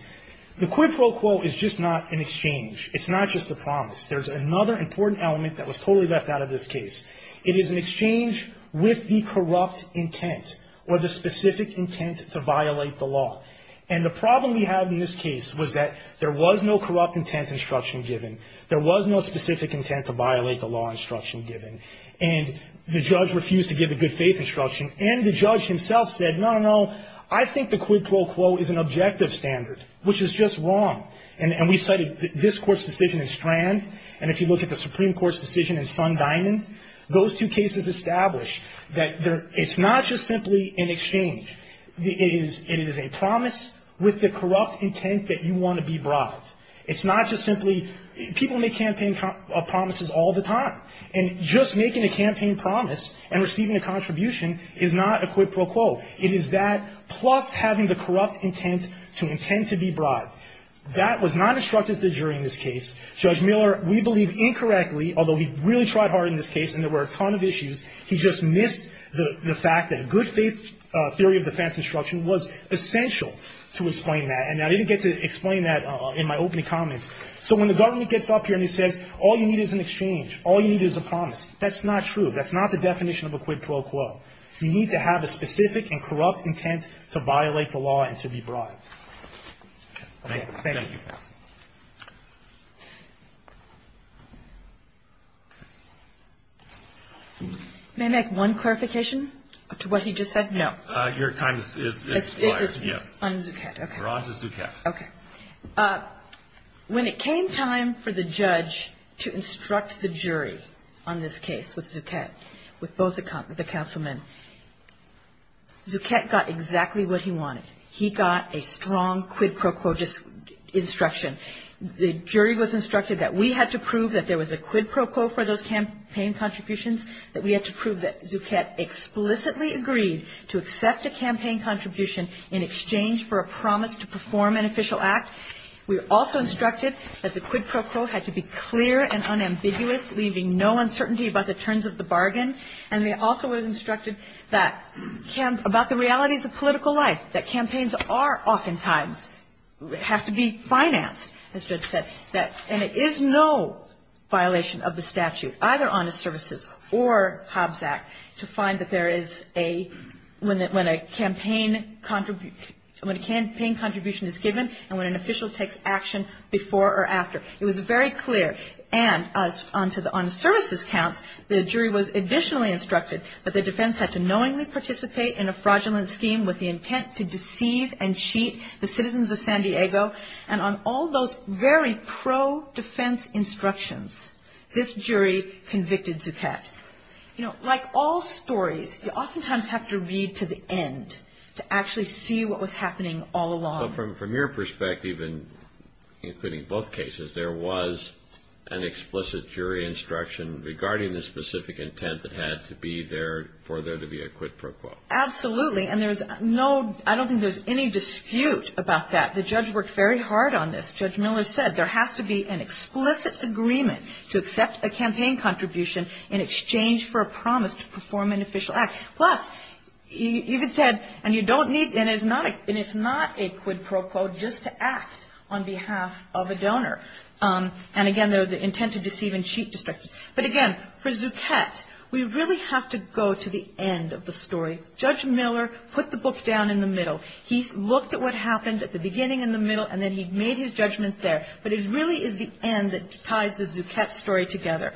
The quid pro quo is just not an exchange. It's not just a promise. There's another important element that was totally left out of this case. It is an exchange with the corrupt intent, or the specific intent to violate the law. And the problem we have in this case was that there was no corrupt intent instruction given. There was no specific intent to violate the law instruction given. And the judge refused to give a good faith instruction. And the judge himself said, no, no, no, I think the quid pro quo is an objective standard, which is just wrong. And we cited this court's decision in Strand, and if you look at the Supreme Court's decision in Fund Diamond, those two cases established that it's not just simply an exchange. It is a promise with the corrupt intent that you want to be brought. It's not just simply, people make campaign promises all the time. And just making a campaign promise and receiving a contribution is not a quid pro quo. It is that plus having the corrupt intent to intend to be brought. That was not instructed to the jury in this case. Judge Miller, we believe incorrectly, although he really tried hard in this case, and there were a ton of issues, he just missed the fact that a good faith theory of defense instruction was essential to explain that, and I didn't get to explain that in my opening comments. So when the government gets up here and says all you need is an exchange, all you need is a promise, that's not true. That's not the definition of a quid pro quo. You need to have a specific and corrupt intent to violate the law and to be brought. Thank you. May I make one clarification to what he just said? No. Your time is expired. Okay. When it came time for the judge to instruct the jury on this case with Duquette, with both the councilmen, Duquette got exactly what he wanted. He got a strong quid pro quo instruction. The jury was instructed that we had to prove that there was a quid pro quo for those campaign contributions, that we had to prove that Duquette explicitly agreed to accept a campaign contribution in exchange for a promise to perform an official act. We were also instructed that the quid pro quo had to be clear and unambiguous, leaving no uncertainty about the terms of the bargain, and we also were instructed that about the realities of political life, that campaigns are oftentimes, have to be financed. And it is no violation of the statute, either Honest Services or Hobbs Act, to find that there is a, when a campaign contribution is given and when an official takes action before or after. It was very clear, and onto the Honest Services count, the jury was additionally instructed that the defense had to knowingly participate in a fraudulent scheme with the intent to deceive and cheat the citizens of San Diego, and on all those very pro-defense instructions, this jury convicted Duquette. You know, like all stories, you oftentimes have to read to the end to actually see what was happening all along. But from your perspective, and including both cases, there was an explicit jury instruction regarding the specific intent that had to be there for there to be a quid pro quo. Absolutely, and there's no, I don't think there's any dispute about that. The judge worked very hard on this. Judge Miller said there has to be an explicit agreement to accept a campaign contribution in exchange for a promise to perform an official act. Plus, he even said, and you don't need, and it's not a quid pro quo just to act on behalf of a donor. And again, there's the intent to deceive and cheat. But again, for Duquette, we really have to go to the end of the story. Judge Miller put the book down in the middle. He looked at what happened at the beginning and the middle, and then he made his judgment there. But it really is the end that ties the Duquette story together.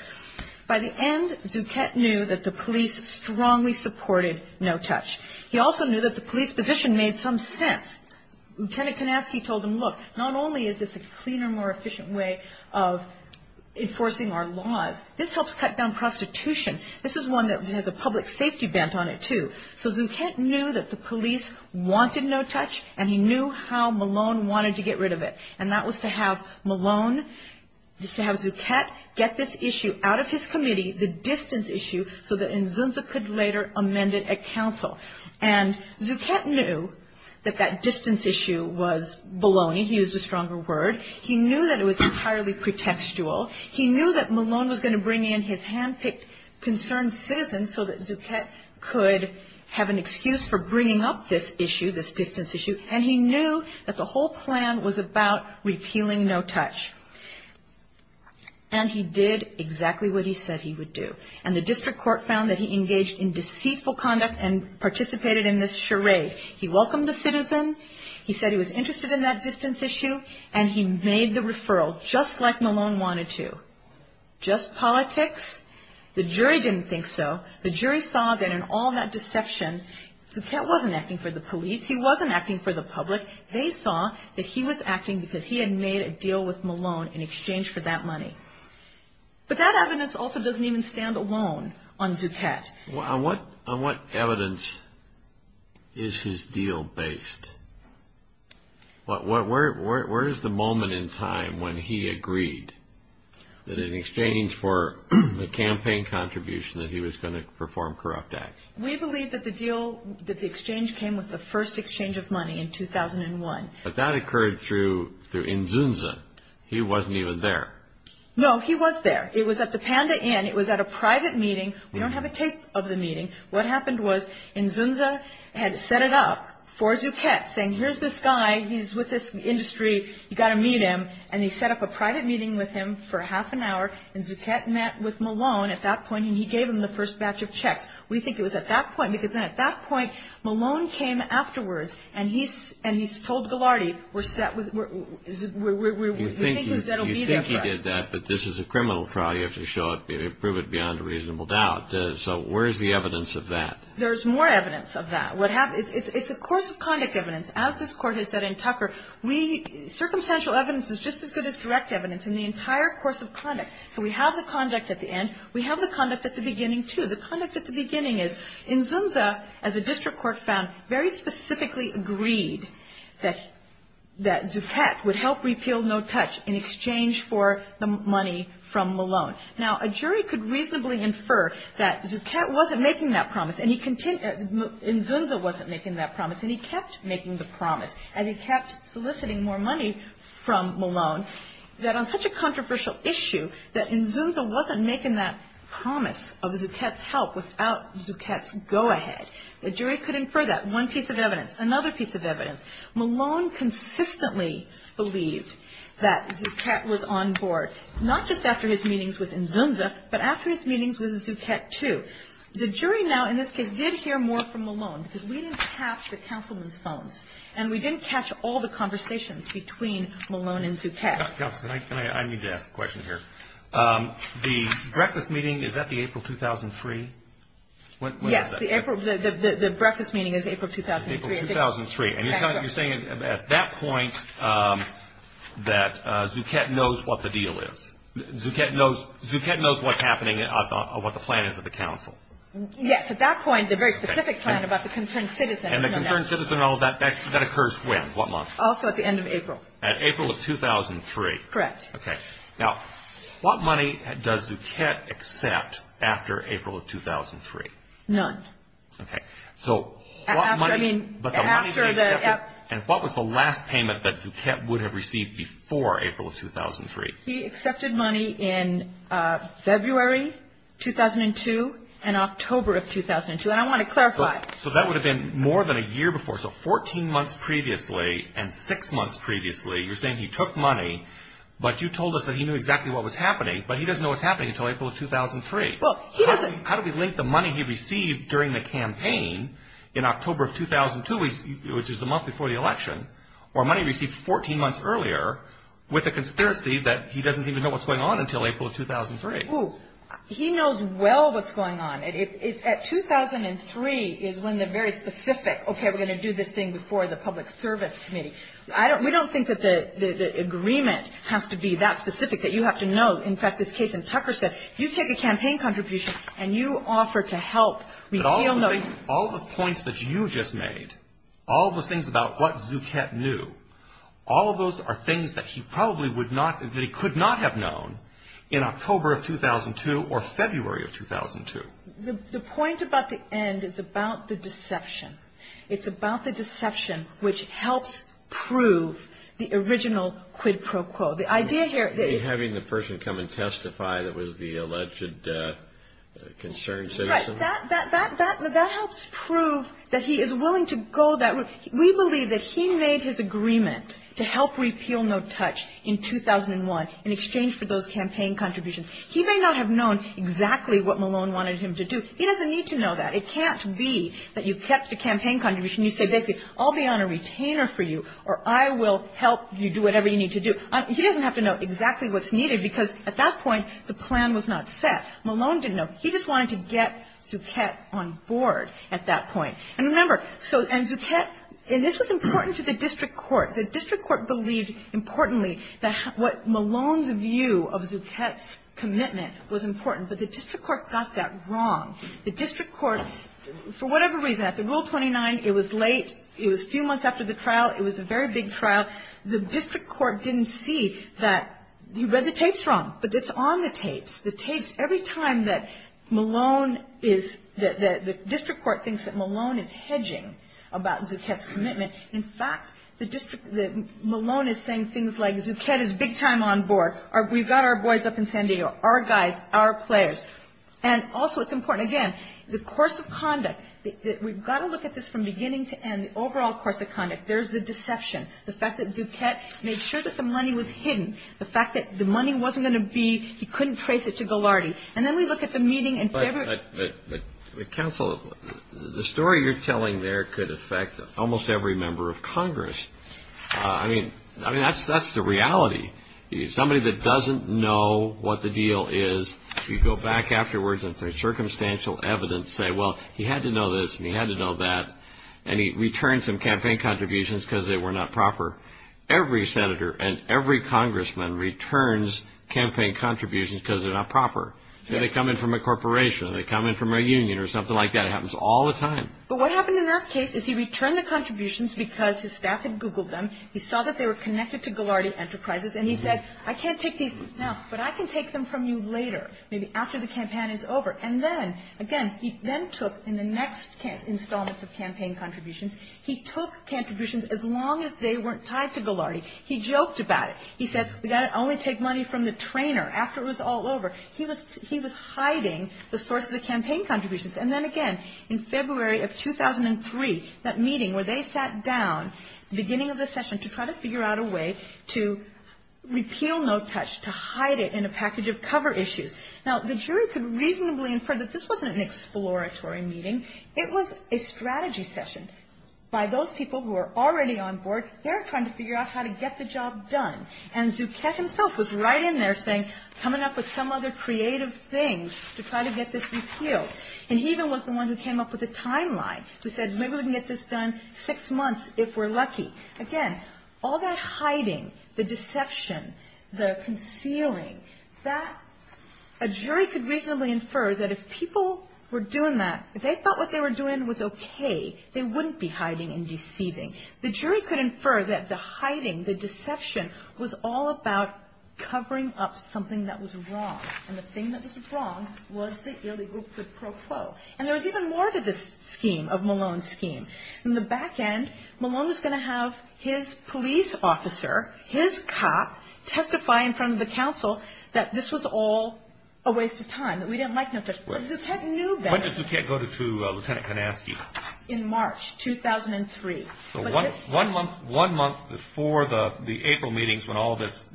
By the end, Duquette knew that the police strongly supported no touch. He also knew that the police position made some sense. Lieutenant Kanaski told him, look, not only is this a cleaner, more efficient way of enforcing our laws, this helps cut down prostitution. This is one that has a public safety bent on it, too. So Duquette knew that the police wanted no touch, and he knew how Malone wanted to get rid of it. And that was to have Malone, to have Duquette get this issue out of his committee, the distance issue, so that Nzumba could later amend it at counsel. And Duquette knew that that distance issue was baloney. He used a stronger word. He knew that it was entirely pretextual. He knew that Malone was going to bring in his hand-picked concerned citizen so that Duquette could have an excuse for bringing up this issue, this distance issue. And he knew that the whole plan was about repealing no touch. And he did exactly what he said he would do. And the district court found that he engaged in deceitful conduct and participated in this charade. He welcomed the citizen. He said he was interested in that distance issue. And he made the referral just like Malone wanted to. Just politics? The jury didn't think so. The jury saw that in all that deception, Duquette wasn't acting for the police. He wasn't acting for the public. They saw that he was acting because he had made a deal with Malone in exchange for that money. But that evidence also doesn't even stand alone on Duquette. On what evidence is his deal based? Where is the moment in time when he agreed that in exchange for the campaign contribution that he was going to perform corrupt acts? We believe that the deal, that the exchange came with the first exchange of money in 2001. But that occurred through Nzunza. He wasn't even there. No, he was there. It was at the Panda Inn. It was at a private meeting. We don't have a tape of the meeting. What happened was Nzunza had set it up for Duquette, saying here's this guy. He's with this industry. You've got to meet him. And he set up a private meeting with him for half an hour. And Duquette met with Malone at that point. And he gave him the first batch of checks. We think it was at that point, because then at that point Malone came afterwards. And he told Gilardi, we're thinking that'll be their check. You think he did that, but this is a criminal trial. You have to prove it beyond a reasonable doubt. So where's the evidence of that? There's more evidence of that. It's a course of conduct evidence, as this Court has said in Tucker. Circumstantial evidence is just as good as direct evidence in the entire course of conduct. So we have the conduct at the end. We have the conduct at the beginning, too. The conduct at the beginning is Nzunza, as the district court found, very specifically agreed that Duquette would help repeal No Touch in exchange for the money from Malone. Now, a jury could reasonably infer that Duquette wasn't making that promise, and Nzunza wasn't making that promise, and he kept making the promise, and he kept soliciting more money from Malone, that on such a controversial issue, that Nzunza wasn't making that promise of Duquette's help without Duquette's go-ahead. The jury could infer that. One piece of evidence. Another piece of evidence. Malone consistently believed that Duquette was on board, not just after his meetings with Nzunza, but after his meetings with Duquette, too. The jury now, in this case, did hear more from Malone, because we didn't catch the counselman's phone, and we didn't catch all the conversations between Malone and Duquette. I need to ask a question here. The breakfast meeting, is that the April 2003? Yes, the breakfast meeting is April 2003. And you're saying at that point that Duquette knows what the deal is. Duquette knows what's happening, what the plan is with the counsel. Yes. At that point, the very specific plan about the concerned citizen. And the concerned citizen and all that, that occurs when? What month? Also at the end of April. At April of 2003. Correct. Okay. Now, what money does Duquette accept after April of 2003? None. Okay. And what was the last payment that Duquette would have received before April of 2003? He accepted money in February 2002 and October of 2002. And I want to clarify. So that would have been more than a year before. So 14 months previously and six months previously, you're saying he took money, but you told us that he knew exactly what was happening, but he doesn't know what's happening until April of 2003. How do we link the money he received during the campaign in October of 2002, which is the month before the election, or money he received 14 months earlier with the conspiracy that he doesn't even know what's going on until April of 2003? He knows well what's going on. At 2003 is when they're very specific. Okay, we're going to do this thing before the public service committee. We don't think that the agreement has to be that specific, that you have to know. In fact, this case in Tucker said you take a campaign contribution and you offer to help. But all the things, all the points that you just made, all the things about what Duquette knew, all of those are things that he probably would not, that he could not have known in October of 2002 or February of 2002. The point about the end is about the deception. It's about the deception which helps prove the original quid pro quo. Having the person come and testify that it was the alleged concerned citizen? That helps prove that he is willing to go that route. We believe that he made his agreement to help repeal No Touch in 2001 in exchange for those campaign contributions. He may not have known exactly what Malone wanted him to do. He doesn't need to know that. It can't be that you kept the campaign contribution. You said, I'll be on a retainer for you or I will help you do whatever you need to do. He doesn't have to know exactly what's needed because at that point the plan was not set. Malone didn't know. He just wanted to get Duquette on board at that point. And remember, so, and Duquette, and this was important to the district court. The district court believed importantly that what Malone's view of Duquette's commitment was important. But the district court got that wrong. The district court, for whatever reason, at the Rule 29, it was late. It was a few months after the trial. It was a very big trial. The district court didn't see that you read the tapes wrong. But it's on the tapes. The tapes, every time that Malone is, the district court thinks that Malone is hedging about Duquette's commitment. In fact, Malone is saying things like Duquette is big time on board. We've got our boys up in San Diego, our guys, our players. And also it's important, again, the course of conduct. We've got to look at this from beginning to end, the overall course of conduct. There's the deception. The fact that Duquette made sure that the money was hidden. The fact that the money wasn't going to be, he couldn't trace it to Ghilardi. And then we look at the meeting in February. Counsel, the story you're telling there could affect almost every member of Congress. I mean, that's the reality. Somebody that doesn't know what the deal is, you go back afterwards and there's circumstantial evidence, say, well, he had to know this and he had to know that, and he returned some campaign contributions because they were not proper. Every senator and every congressman returns campaign contributions because they're not proper. They come in from a corporation. They come in from a union or something like that. It happens all the time. But what happened in our case is he returned the contributions because his staff had Googled them. He saw that they were connected to Ghilardi Enterprises and he said, I can't take these now, but I can take them from you later, maybe after the campaign is over. And then, again, he then took in the next installment of campaign contributions, he took contributions as long as they weren't tied to Ghilardi. He joked about it. He said, we've got to only take money from the trainer after it was all over. He was hiding the source of the campaign contributions. And then, again, in February of 2003, that meeting where they sat down, the beginning of the session to try to figure out a way to repeal No Touch, to hide it in a package of cover issues. Now, the jury could reasonably infer that this wasn't an exploratory meeting. It was a strategy session by those people who were already on board. They're trying to figure out how to get the job done. And Zucchett himself was right in there saying, coming up with some other creative thing to try to get this repealed. And he even was the one who came up with a timeline. He said, we wouldn't get this done in six months if we're lucky. Again, all that hiding, the deception, the concealing, a jury could reasonably infer that if people were doing that, if they thought what they were doing was okay, they wouldn't be hiding and deceiving. The jury could infer that the hiding, the deception, was all about covering up something that was wrong. And the thing that was wrong was the illegal pro quo. And there was even more to this scheme, of Malone's scheme. In the back end, Malone was going to have his police officer, his cop, testify in front of the council that this was all a waste of time, that we didn't like this. Zucchett knew that. When did Zucchett go to Lieutenant Kanasky? In March 2003. So one month before the April meetings when all this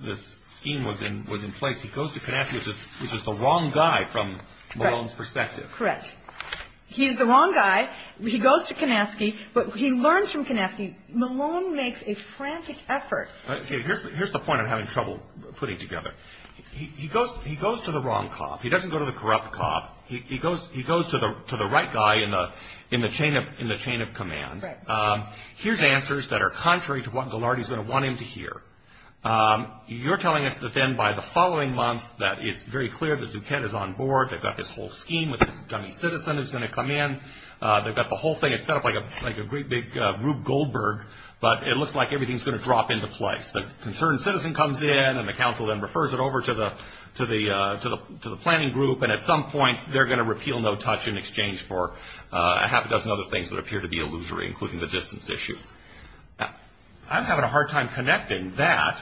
scheme was in place, he goes to Kanasky, which is the wrong guy from Malone's perspective. Correct. He's the wrong guy. He goes to Kanasky, but he learns from Kanasky. Malone makes a frantic effort. Here's the point I'm having trouble putting together. He goes to the wrong cop. He doesn't go to the corrupt cop. He goes to the right guy in the chain of command. Here's answers that are contrary to what Gillardi's going to want him to hear. You're telling us that then by the following month that it's very clear that Zucchett is on board, they've got this whole scheme with this dummy citizen that's going to come in, they've got the whole thing set up like a great big Rube Goldberg, but it looks like everything's going to drop into place. The concerned citizen comes in and the council then refers it over to the planning group, and at some point they're going to repeal no touch in exchange for a half a dozen other things that appear to be illusory, including the distance issue. I'm having a hard time connecting that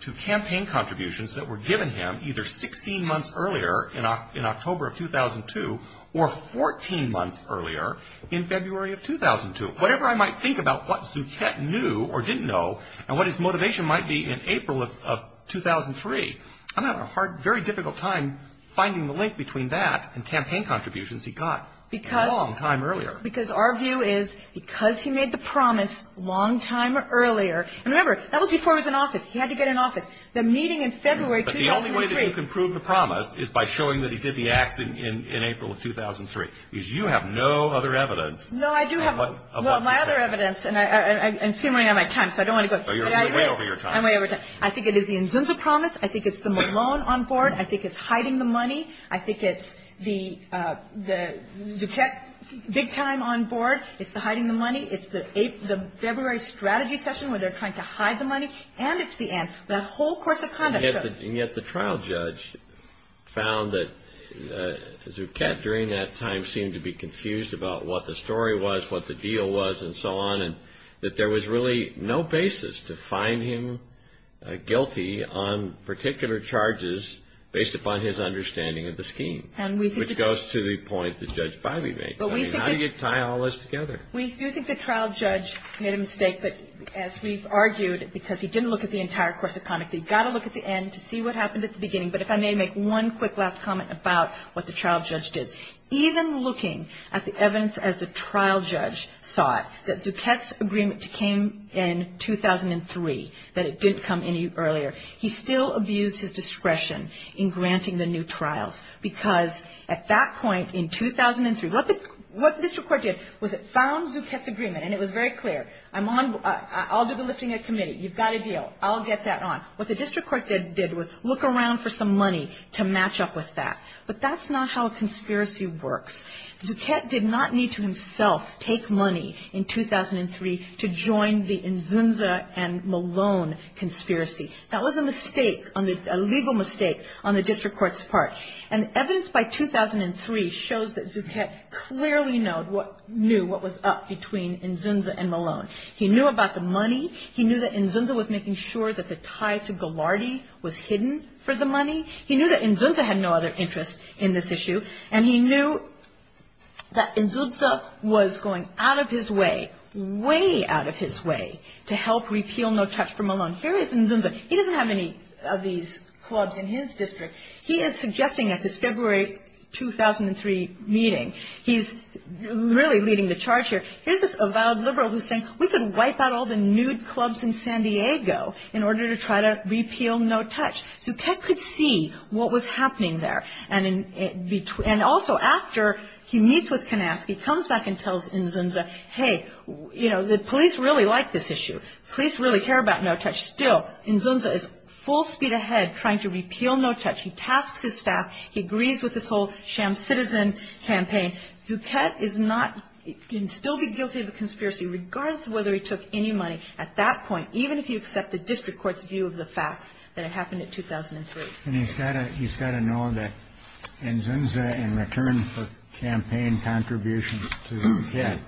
to campaign contributions that were given him either 16 months earlier in October of 2002 or 14 months earlier in February of 2002. Whatever I might think about what Zucchett knew or didn't know and what his motivation might be in April of 2003, I'm having a very difficult time finding the link between that and campaign contributions he got a long time earlier. Because our view is because he made the promise a long time earlier. Remember, that was before he was in office. He had to get in office. But the only way that you can prove the promise is by showing that he did the act in April of 2003. Because you have no other evidence. No, I do have my other evidence. And see, I'm running out of time, so I don't want to go through that. So you're way over your time. I'm way over time. I think it is the INZINSA promise. I think it's the Malone on board. I think it's hiding the money. I think it's the Zucchett big time on board. It's the February strategy session where they're trying to hide the money. And it's the answer. The whole course of conduct shows. And yet the trial judge found that Zucchett during that time seemed to be confused about what the story was, what the deal was, and so on. And that there was really no basis to find him guilty on particular charges based upon his understanding of the scheme. Which goes to the point that Judge Biley made. I mean, how do you tie all this together? We do think the trial judge made a mistake. But as we've argued, because he didn't look at the entire course of conduct, we've got to look at the end to see what happened at the beginning. But if I may make one quick last comment about what the trial judge did. Even looking at the evidence as the trial judge saw it, that Zucchett's agreement came in 2003, that it didn't come any earlier. He still abused his discretion in granting the new trials. Because at that point in 2003, what the district court did was it found Zucchett's agreement. And it was very clear. I'll do the listing of the committee. You've got a deal. I'll get that on. What the district court did was look around for some money to match up with that. But that's not how a conspiracy works. Zucchett did not need to himself take money in 2003 to join the Nzunza and Malone conspiracy. That was a mistake, a legal mistake, on the district court's part. And evidence by 2003 shows that Zucchett clearly knew what was up between Nzunza and Malone. He knew about the money. He knew that Nzunza was making sure that the tie to Ghilardi was hidden for the money. He knew that Nzunza had no other interest in this issue. And he knew that Nzunza was going out of his way, way out of his way, to help repeal No Touch for Malone. Here is Nzunza. He doesn't have any of these clubs in his district. He is suggesting at this February 2003 meeting, he's really leading the charge here, here's this avowed liberal who's saying we can wipe out all the nude clubs in San Diego in order to try to repeal No Touch. Zucchett could see what was happening there. And also after he meets with Konansky, comes back and tells Nzunza, hey, you know, the police really like this issue. The police really care about No Touch. Still, Nzunza is full speed ahead trying to repeal No Touch. He tasks his staff. He agrees with this whole sham citizen campaign. Zucchett can still be guilty of a conspiracy regardless of whether he took any money at that point, even if you accept the district court's view of the fact that it happened in 2003. And he's got to know that Nzunza in return for campaign contributions to Zucchett.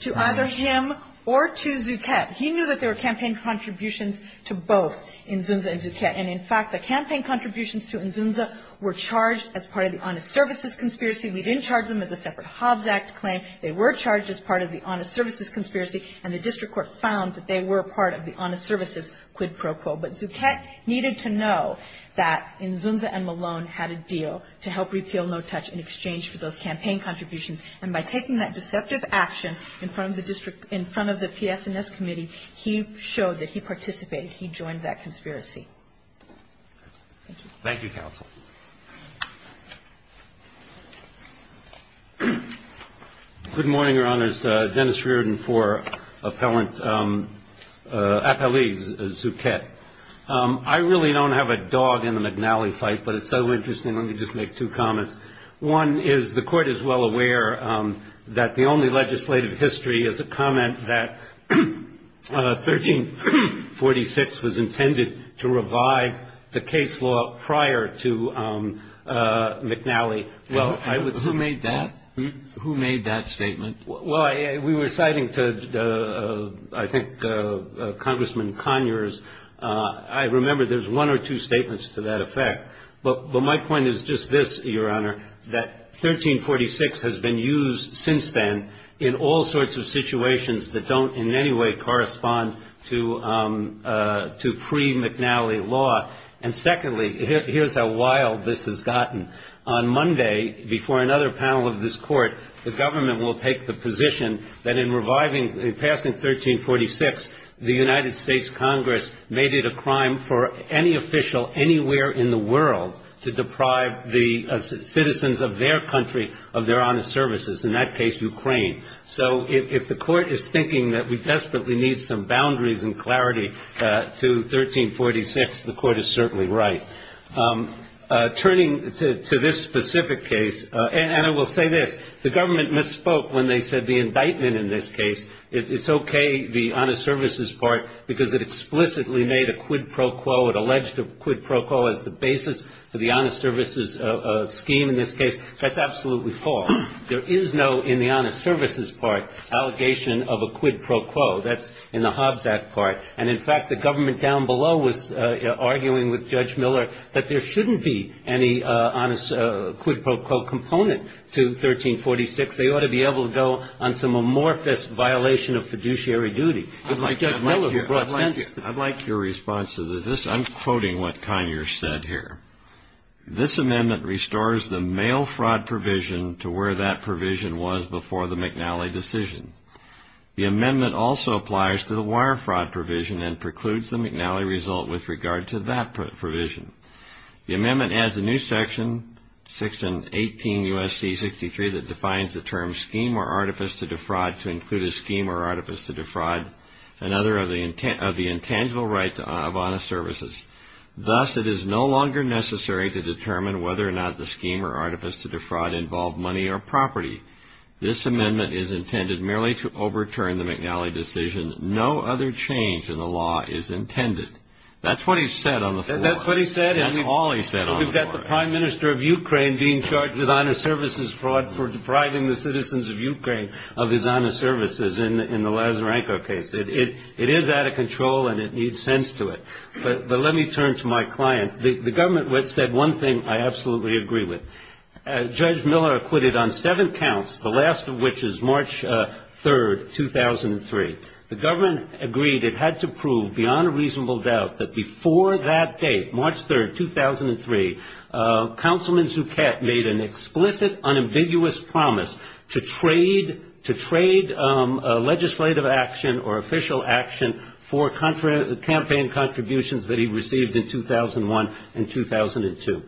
To either him or to Zucchett. He knew that there were campaign contributions to both Nzunza and Zucchett. And, in fact, the campaign contributions to Nzunza were charged as part of the Honest Services Conspiracy. We didn't charge them as a separate Hobbs Act claim. They were charged as part of the Honest Services Conspiracy. And the district court found that they were part of the Honest Services quid pro quo. But Zucchett needed to know that Nzunza and Malone had a deal to help repeal No Touch in exchange for those campaign contributions. And by taking that deceptive action in front of the TS&S committee, he showed that he participated. He joined that conspiracy. Thank you. Thank you, counsel. Good morning, Your Honors. Dennis Reardon for Appellant Akali Zucchett. I really don't have a dog in the McNally fight, but it's so interesting. Let me just make two comments. One is the court is well aware that the only legislative history is a comment that 1346 was intended to revive the case law prior to McNally. Who made that statement? We were citing, I think, Congressman Conyers. I remember there's one or two statements to that effect. But my point is just this, Your Honor, that 1346 has been used since then in all sorts of situations that don't in any way correspond to pre-McNally law. And secondly, here's how wild this has gotten. On Monday, before another panel of this court, the government will take the position that in reviving, in passing 1346, the United States Congress made it a crime for any official anywhere in the world to deprive the citizens of their country of their honest services. In that case, Ukraine. So if the court is thinking that we desperately need some boundaries and clarity to 1346, the court is certainly right. Turning to this specific case, and I will say this, the government misspoke when they said the indictment in this case, it's okay, the honest services part, because it explicitly made a quid pro quo. It alleged a quid pro quo as the basis of the honest services scheme in this case. That's absolutely false. There is no, in the honest services part, allegation of a quid pro quo. That's in the Hobbs Act part. And, in fact, the government down below was arguing with Judge Miller that there shouldn't be any honest quid pro quo component to 1346. They ought to be able to go on some amorphous violation of fiduciary duty. I'd like your response to this. I'm quoting what Conyers said here. This amendment restores the mail fraud provision to where that provision was before the McNally decision. The amendment also applies to the wire fraud provision and precludes the McNally result with regard to that provision. The amendment adds a new section, section 18 U.S.C. 63, that defines the term scheme or artifice to defraud to include a scheme or artifice to defraud another of the intangible right of honest services. Thus, it is no longer necessary to determine whether or not the scheme or artifice to defraud involved money or property. This amendment is intended merely to overturn the McNally decision. No other change in the law is intended. That's what he said on the floor. That's what he said. That's all he said on the floor. So we've got the Prime Minister of Ukraine being charged with honest services fraud for depriving the citizens of Ukraine of his honest services in the Lazarenko case. It is out of control and it needs sense to it. But let me turn to my client. The government said one thing I absolutely agree with. Judge Miller acquitted on seven counts, the last of which is March 3rd, 2003. The government agreed it had to prove beyond a reasonable doubt that before that date, March 3rd, 2003, Councilman Zuckett made an explicit, unambiguous promise to trade legislative action or official action for campaign contributions that he received in 2001 and 2002.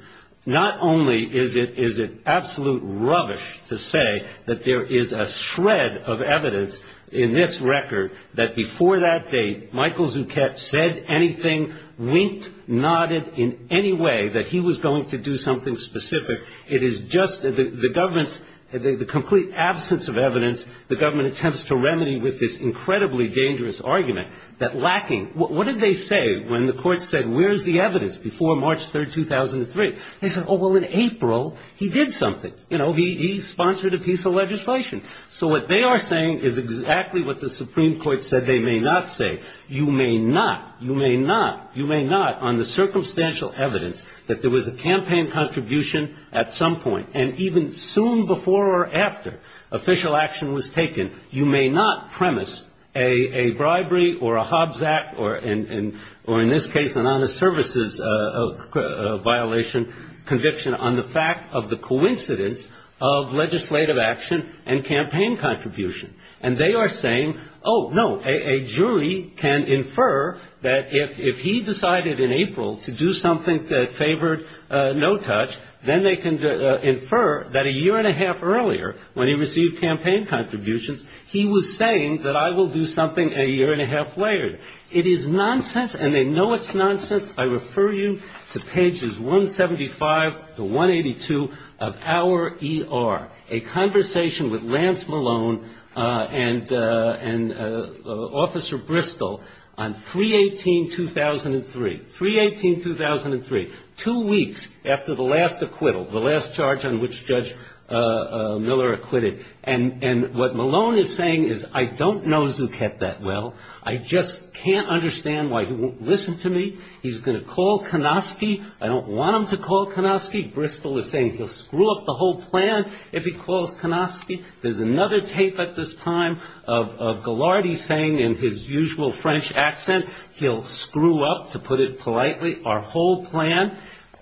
Not only is it absolute rubbish to say that there is a shred of evidence in this record that before that date, Michael Zuckett said anything, winked, nodded in any way that he was going to do something specific. It is just the government, the complete absence of evidence, the government attempts to remedy with this incredibly dangerous argument that lacking. What did they say when the court said, where is the evidence before March 3rd, 2003? They said, oh, well, in April, he did something. He sponsored a piece of legislation. So what they are saying is exactly what the Supreme Court said they may not say. You may not, you may not, you may not on the circumstantial evidence that there was a campaign contribution at some point and even soon before or after official action was taken, you may not premise a bribery or a Hobbs Act or in this case an honest services violation conviction on the fact of the coincidence of legislative action and campaign contribution. And they are saying, oh, no, a jury can infer that if he decided in April to do something that favored no touch, then they can infer that a year and a half earlier when he received campaign contributions, he was saying that I will do something a year and a half later. It is nonsense and they know it's nonsense. I refer you to pages 175 to 182 of our ER, a conversation with Lance Malone and Officer Bristol on 3-18-2003, 3-18-2003, two weeks after the last acquittal, the last charge on which Judge Miller acquitted. And what Malone is saying is I don't know Zuckett that well. I just can't understand why he won't listen to me. He's going to call Konofsky. I don't want him to call Konofsky. Bristol is saying he'll screw up the whole plan if he calls Konofsky. There's another tape at this time of Ghilardi saying in his usual French accent, he'll screw up, to put it politely, our whole plan,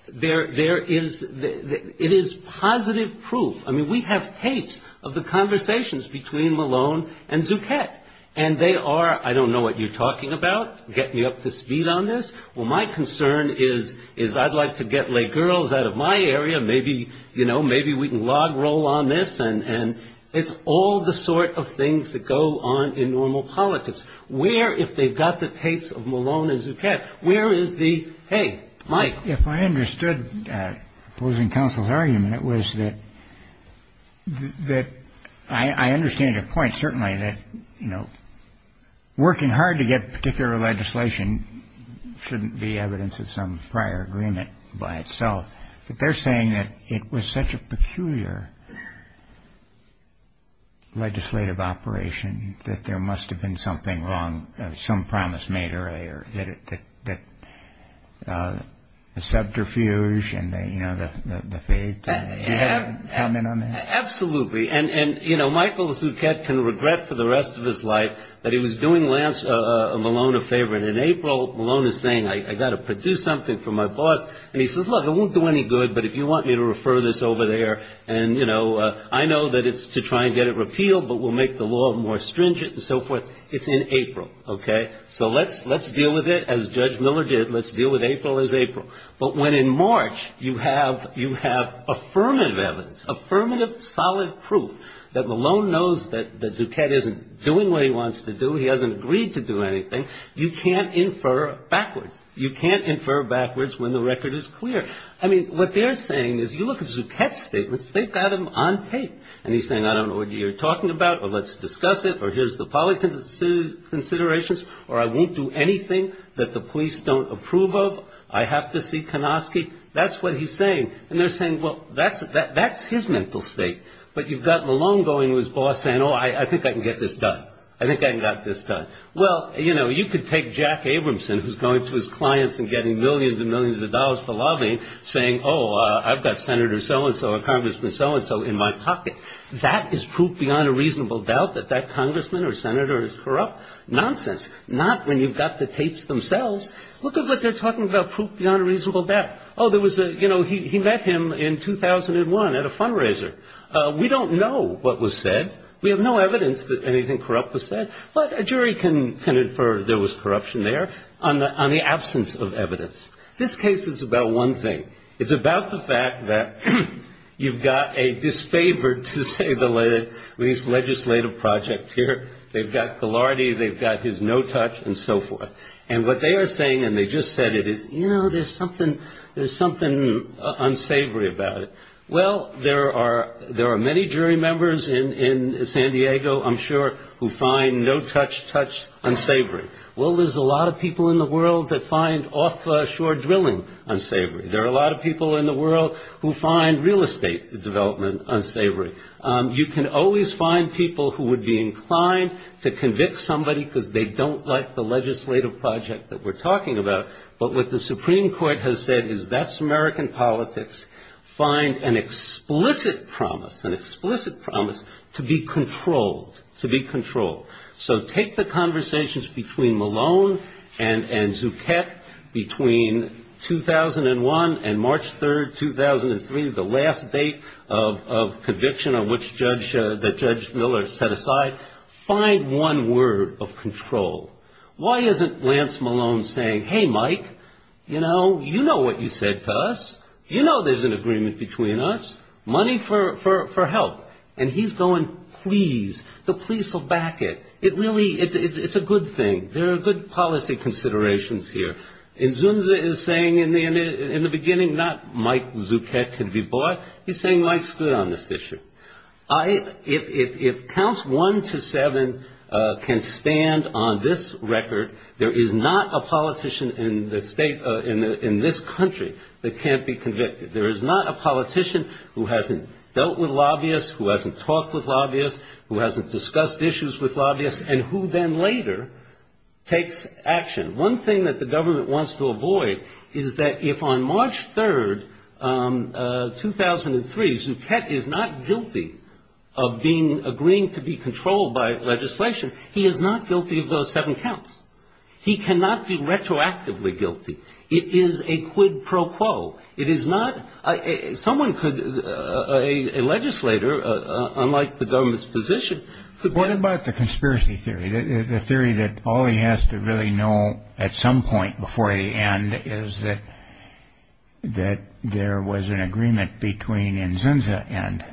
there is, it is positive proof. I mean, we have tapes of the conversations between Malone and Zuckett. And they are, I don't know what you're talking about, getting me up to speed on this. Well, my concern is I'd like to get lay girls out of my area. Maybe, you know, maybe we can log roll on this. And it's all the sort of things that go on in normal politics. Where, if they've got the tapes of Malone and Zuckett, where is the, hey, Mike. If I understood opposing counsel's argument, it was that I understand your point, certainly, that, you know, working hard to get particular legislation shouldn't be evidence of some prior agreement by itself. But they're saying that it was such a peculiar legislative operation that there must have been something wrong, some promise made earlier, that the subterfuge and, you know, the faith. Do you have a comment on that? Absolutely. And, you know, Michael Zuckett can regret for the rest of his life that he was doing Malone a favor. And in April, Malone is saying, I've got to do something for my boss. And he says, look, it won't do any good, but if you want me to refer this over there and, you know, I know that it's to try and get it repealed, but we'll make the law more stringent and so forth. It's in April. Okay. So let's deal with it as Judge Miller did. Let's deal with April as April. But when in March you have affirmative evidence, affirmative solid proof that Malone knows that Zuckett isn't doing what he wants to do, he hasn't agreed to do anything, you can't infer backwards. You can't infer backwards when the record is clear. I mean, what they're saying is, you look at Zuckett's statements, they've got them on tape. And he's saying, I don't know what you're talking about, or let's discuss it, or here's the policy considerations, or I won't do anything that the police don't approve of. I have to see Konofsky. That's what he's saying. And they're saying, well, that's his mental state. But you've got Malone going to his boss saying, oh, I think I can get this done. I think I can get this done. Well, you know, you could take Jack Abramson, who's going to his clients and getting millions and millions of dollars to lobby, saying, oh, I've got Senator so-and-so and Congressman so-and-so in my pocket. That is proof beyond a reasonable doubt that that Congressman or Senator is corrupt. Nonsense. Not when you've got the tapes themselves. Look at what they're talking about, proof beyond a reasonable doubt. Oh, there was a, you know, he met him in 2001 at a fundraiser. We don't know what was said. We have no evidence that anything corrupt was said. But a jury can infer there was corruption there on the absence of evidence. This case is about one thing. It's about the fact that you've got a disfavored, to say the least, legislative project here. They've got Golarity, they've got his no touch, and so forth. And what they are saying, and they just said it, is, you know, there's something unsavory about it. Well, there are many jury members in San Diego, I'm sure, who find no touch, touch unsavory. Well, there's a lot of people in the world that find offshore drilling unsavory. There are a lot of people in the world who find real estate development unsavory. You can always find people who would be inclined to convict somebody because they don't like the legislative project that we're talking about. But what the Supreme Court has said is that's American politics. Find an explicit promise, an explicit promise to be controlled, to be controlled. So take the conversations between Malone and Zuckett between 2001 and March 3rd, 2003, the last date of conviction on which Judge Miller set aside. Find one word of control. Why isn't Lance Malone saying, hey, Mike, you know, you know what you said to us. You know there's an agreement between us. Money for help. And he's going, please. The police will back it. It really, it's a good thing. There are good policy considerations here. And Zunza is saying in the beginning, not Mike Zuckett can be bought. He's saying Mike's good on this issue. If counts one to seven can stand on this record, there is not a politician in this country that can't be convicted. There is not a politician who hasn't dealt with lobbyists, who hasn't talked with lobbyists, who hasn't discussed issues with lobbyists, and who then later takes action. One thing that the government wants to avoid is that if on March 3rd, 2003, Zuckett is not guilty of being, agreeing to be controlled by legislation, he is not guilty of those seven counts. He cannot be retroactively guilty. It is a quid pro quo. It is not, someone could, a legislator, unlike the government's position. What about the conspiracy theory? The theory that all he has to really know at some point before the end is that, that there was an agreement between Nzunza and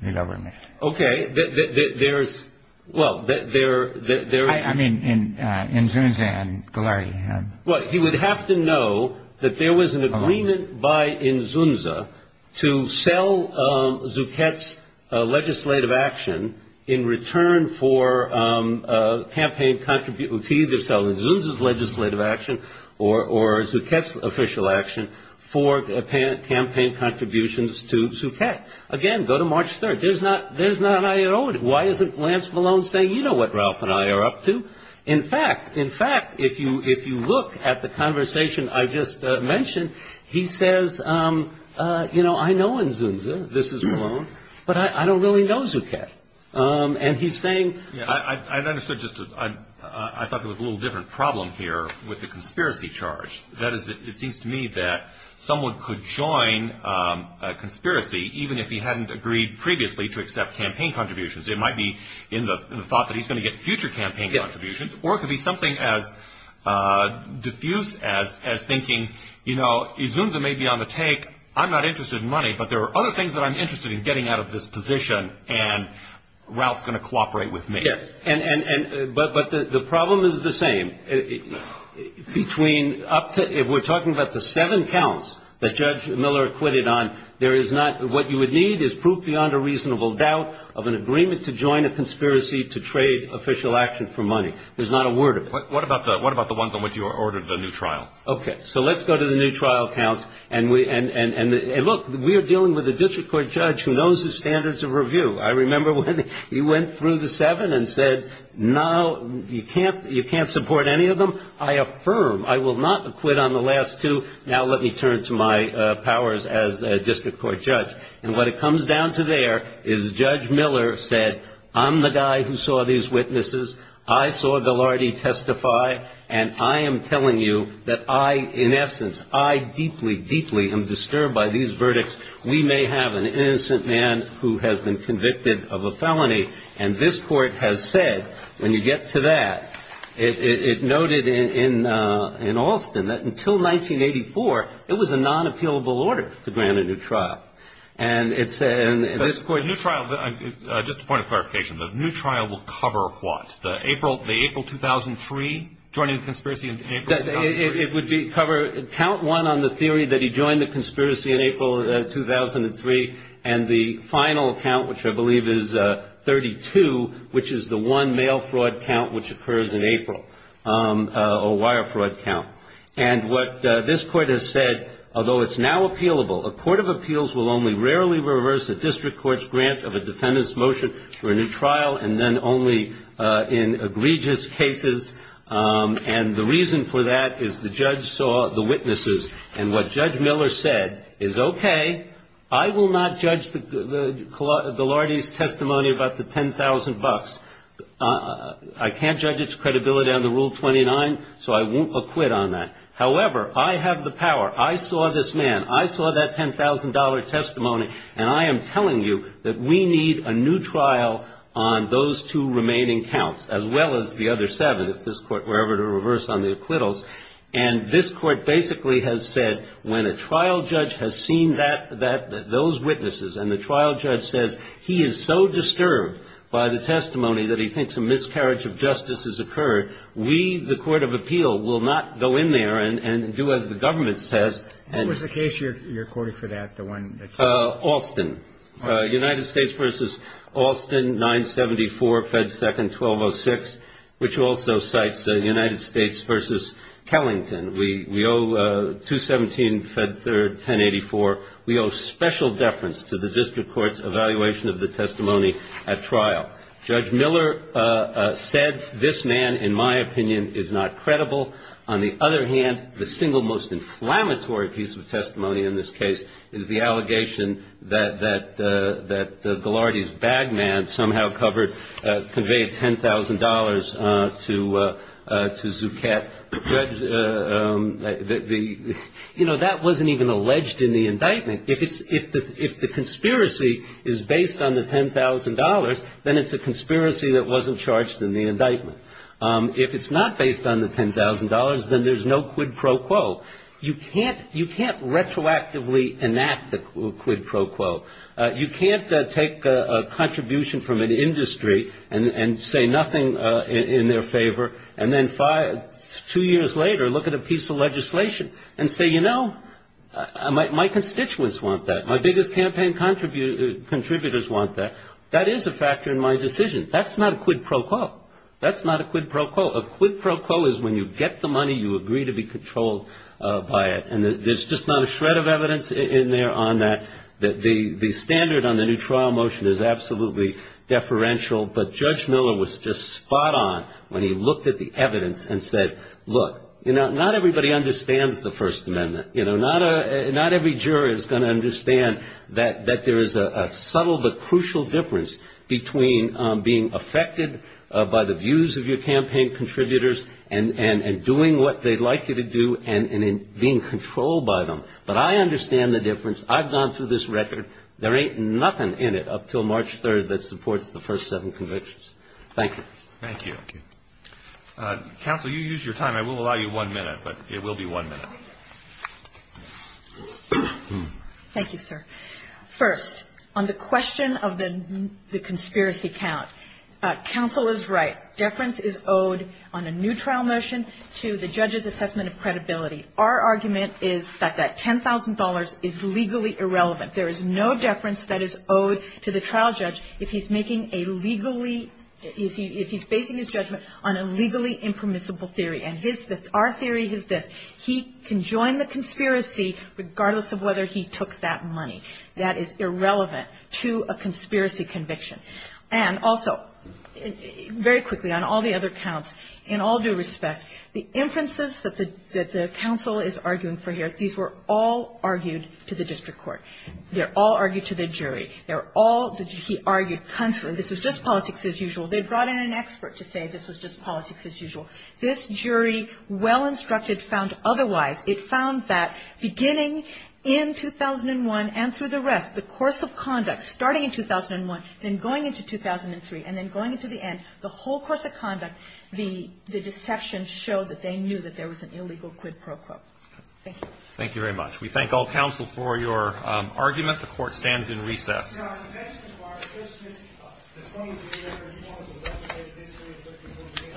the government. Okay. There is, well, there is. I mean, Nzunza and Golari. Well, he would have to know that there was an agreement by Nzunza to sell Zuckett's legislative action in return for campaign, to either sell Nzunza's legislative action or Zuckett's official action for campaign contributions to Zuckett. Again, go to March 3rd. There is not, there is not an irony. Why isn't Lance Malone saying, you know what Ralph and I are up to? In fact, in fact, if you look at the conversation I just mentioned, he says, you know, I know Nzunza, this is Malone, but I don't really know Zuckett. And he's saying. I thought there was a little different problem here with the conspiracy charge. That is, it seems to me that someone could join a conspiracy, even if he hadn't agreed previously to accept campaign contributions. It might be in the thought that he's going to get future campaign contributions, or it could be something as diffused as thinking, you know, Nzunza may be on the take. I'm not interested in money, but there are other things that I'm interested in getting out of this position, and Ralph's going to cooperate with me. Yes, but the problem is the same. Between up to, if we're talking about the seven counts that Judge Miller acquitted on, there is not, what you would need is proof beyond a reasonable doubt of an agreement to join a conspiracy to trade official action for money. There's not a word of it. What about the ones on which you ordered the new trial? Okay, so let's go to the new trial counts, and look, we are dealing with a district court judge who knows his standards of review. I remember when he went through the seven and said, no, you can't support any of them. I affirm, I will not acquit on the last two. Now let me turn to my powers as a district court judge, and what it comes down to there is Judge Miller said, I'm the guy who saw these witnesses. I saw Ghilardi testify, and I am telling you that I, in essence, I deeply, deeply am disturbed by these verdicts. We may have an innocent man who has been convicted of a felony, and this court has said, when you get to that, it noted in Alston that until 1984, it was a non-appealable order to grant a new trial. And this court The new trial, just a point of clarification, the new trial will cover what? The April 2003, joining the conspiracy in April? It would cover, count one on the theory that he joined the conspiracy in April 2003, and the final count, which I believe is 32, which is the one male fraud count which occurs in April, a wire fraud count. And what this court has said, although it's now appealable, a court of appeals will only rarely reverse a district court's grant of a defendant's motion for a new trial, and then only in egregious cases. And the reason for that is the judge saw the witnesses, and what Judge Miller said is, okay, I will not judge the Lordy's testimony about the $10,000. I can't judge its credibility under Rule 29, so I won't acquit on that. However, I have the power. I saw this man. I saw that $10,000 testimony, and I am telling you that we need a new trial on those two remaining counts, as well as the other seven, if this court were ever to reverse on the acquittals. And this court basically has said, when a trial judge has seen those witnesses and the trial judge says he is so disturbed by the testimony that he thinks a miscarriage of justice has occurred, we, the court of appeal, will not go in there and do as the government says. What was the case you're courting for that, the one that's? Alston. United States versus Alston, 974, Fed 2nd, 1206, which also cites the United States versus Kellington. We owe 217, Fed 3rd, 1084. We owe special deference to the district court's evaluation of the testimony at trial. Judge Miller said this man, in my opinion, is not credible. On the other hand, the single most inflammatory piece of testimony in this case is the allegation that the Lordy's bag man somehow conveyed $10,000 to Zucchett. You know, that wasn't even alleged in the indictment. If the conspiracy is based on the $10,000, then it's a conspiracy that wasn't charged in the indictment. If it's not based on the $10,000, then there's no quid pro quo. You can't retroactively enact the quid pro quo. You can't take a contribution from an industry and say nothing in their favor, and then two years later look at a piece of legislation and say, you know, my constituents want that. My biggest campaign contributors want that. That is a factor in my decision. That's not a quid pro quo. That's not a quid pro quo. A quid pro quo is when you get the money, you agree to be controlled by it. And there's just not a shred of evidence in there on that, that the standard on the new trial motion is absolutely deferential. But Judge Miller was just spot on when he looked at the evidence and said, look, not everybody understands the First Amendment. You know, not every juror is going to understand that there is a subtle but crucial difference between being affected by the views of your campaign contributors and doing what they'd like you to do and being controlled by them. But I understand the difference. I've gone through this record. There ain't nothing in it up until March 3rd that supports the first seven convictions. Thank you. Thank you. Counsel, you used your time. I will allow you one minute, but it will be one minute. Thank you, sir. First, on the question of the conspiracy count, counsel is right. Deference is owed on a new trial motion to the judge's assessment of credibility. Our argument is that $10,000 is legally irrelevant. There is no deference that is owed to the trial judge if he's making a legally if he's basing his judgment on a legally impermissible theory. And our theory is that he can join the conspiracy regardless of whether he took that money. That is irrelevant to a conspiracy conviction. And also, very quickly, on all the other counts, in all due respect, the inferences that the counsel is arguing for here, these were all argued to the district court. They're all argued to the jury. They're all argued constantly. This is just politics as usual. They brought in an expert to say this is just politics as usual. This jury, well instructed, found otherwise. It found that beginning in 2001 and through the rest, the course of conduct starting in 2001 and going into 2003 and then going into the end, the whole course of conduct, the deceptions show that they knew that there was an illegal quid pro quo. Thank you. Thank you very much. We thank all counsel for your argument. The court stands in recess. Mr. Johnson, can I ask you a question about the history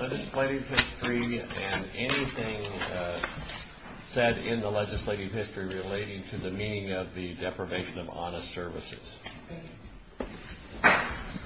of the legislative history? Legislative history and anything said in the legislative history relating to the meaning of the deprivation of honest services. Thank you.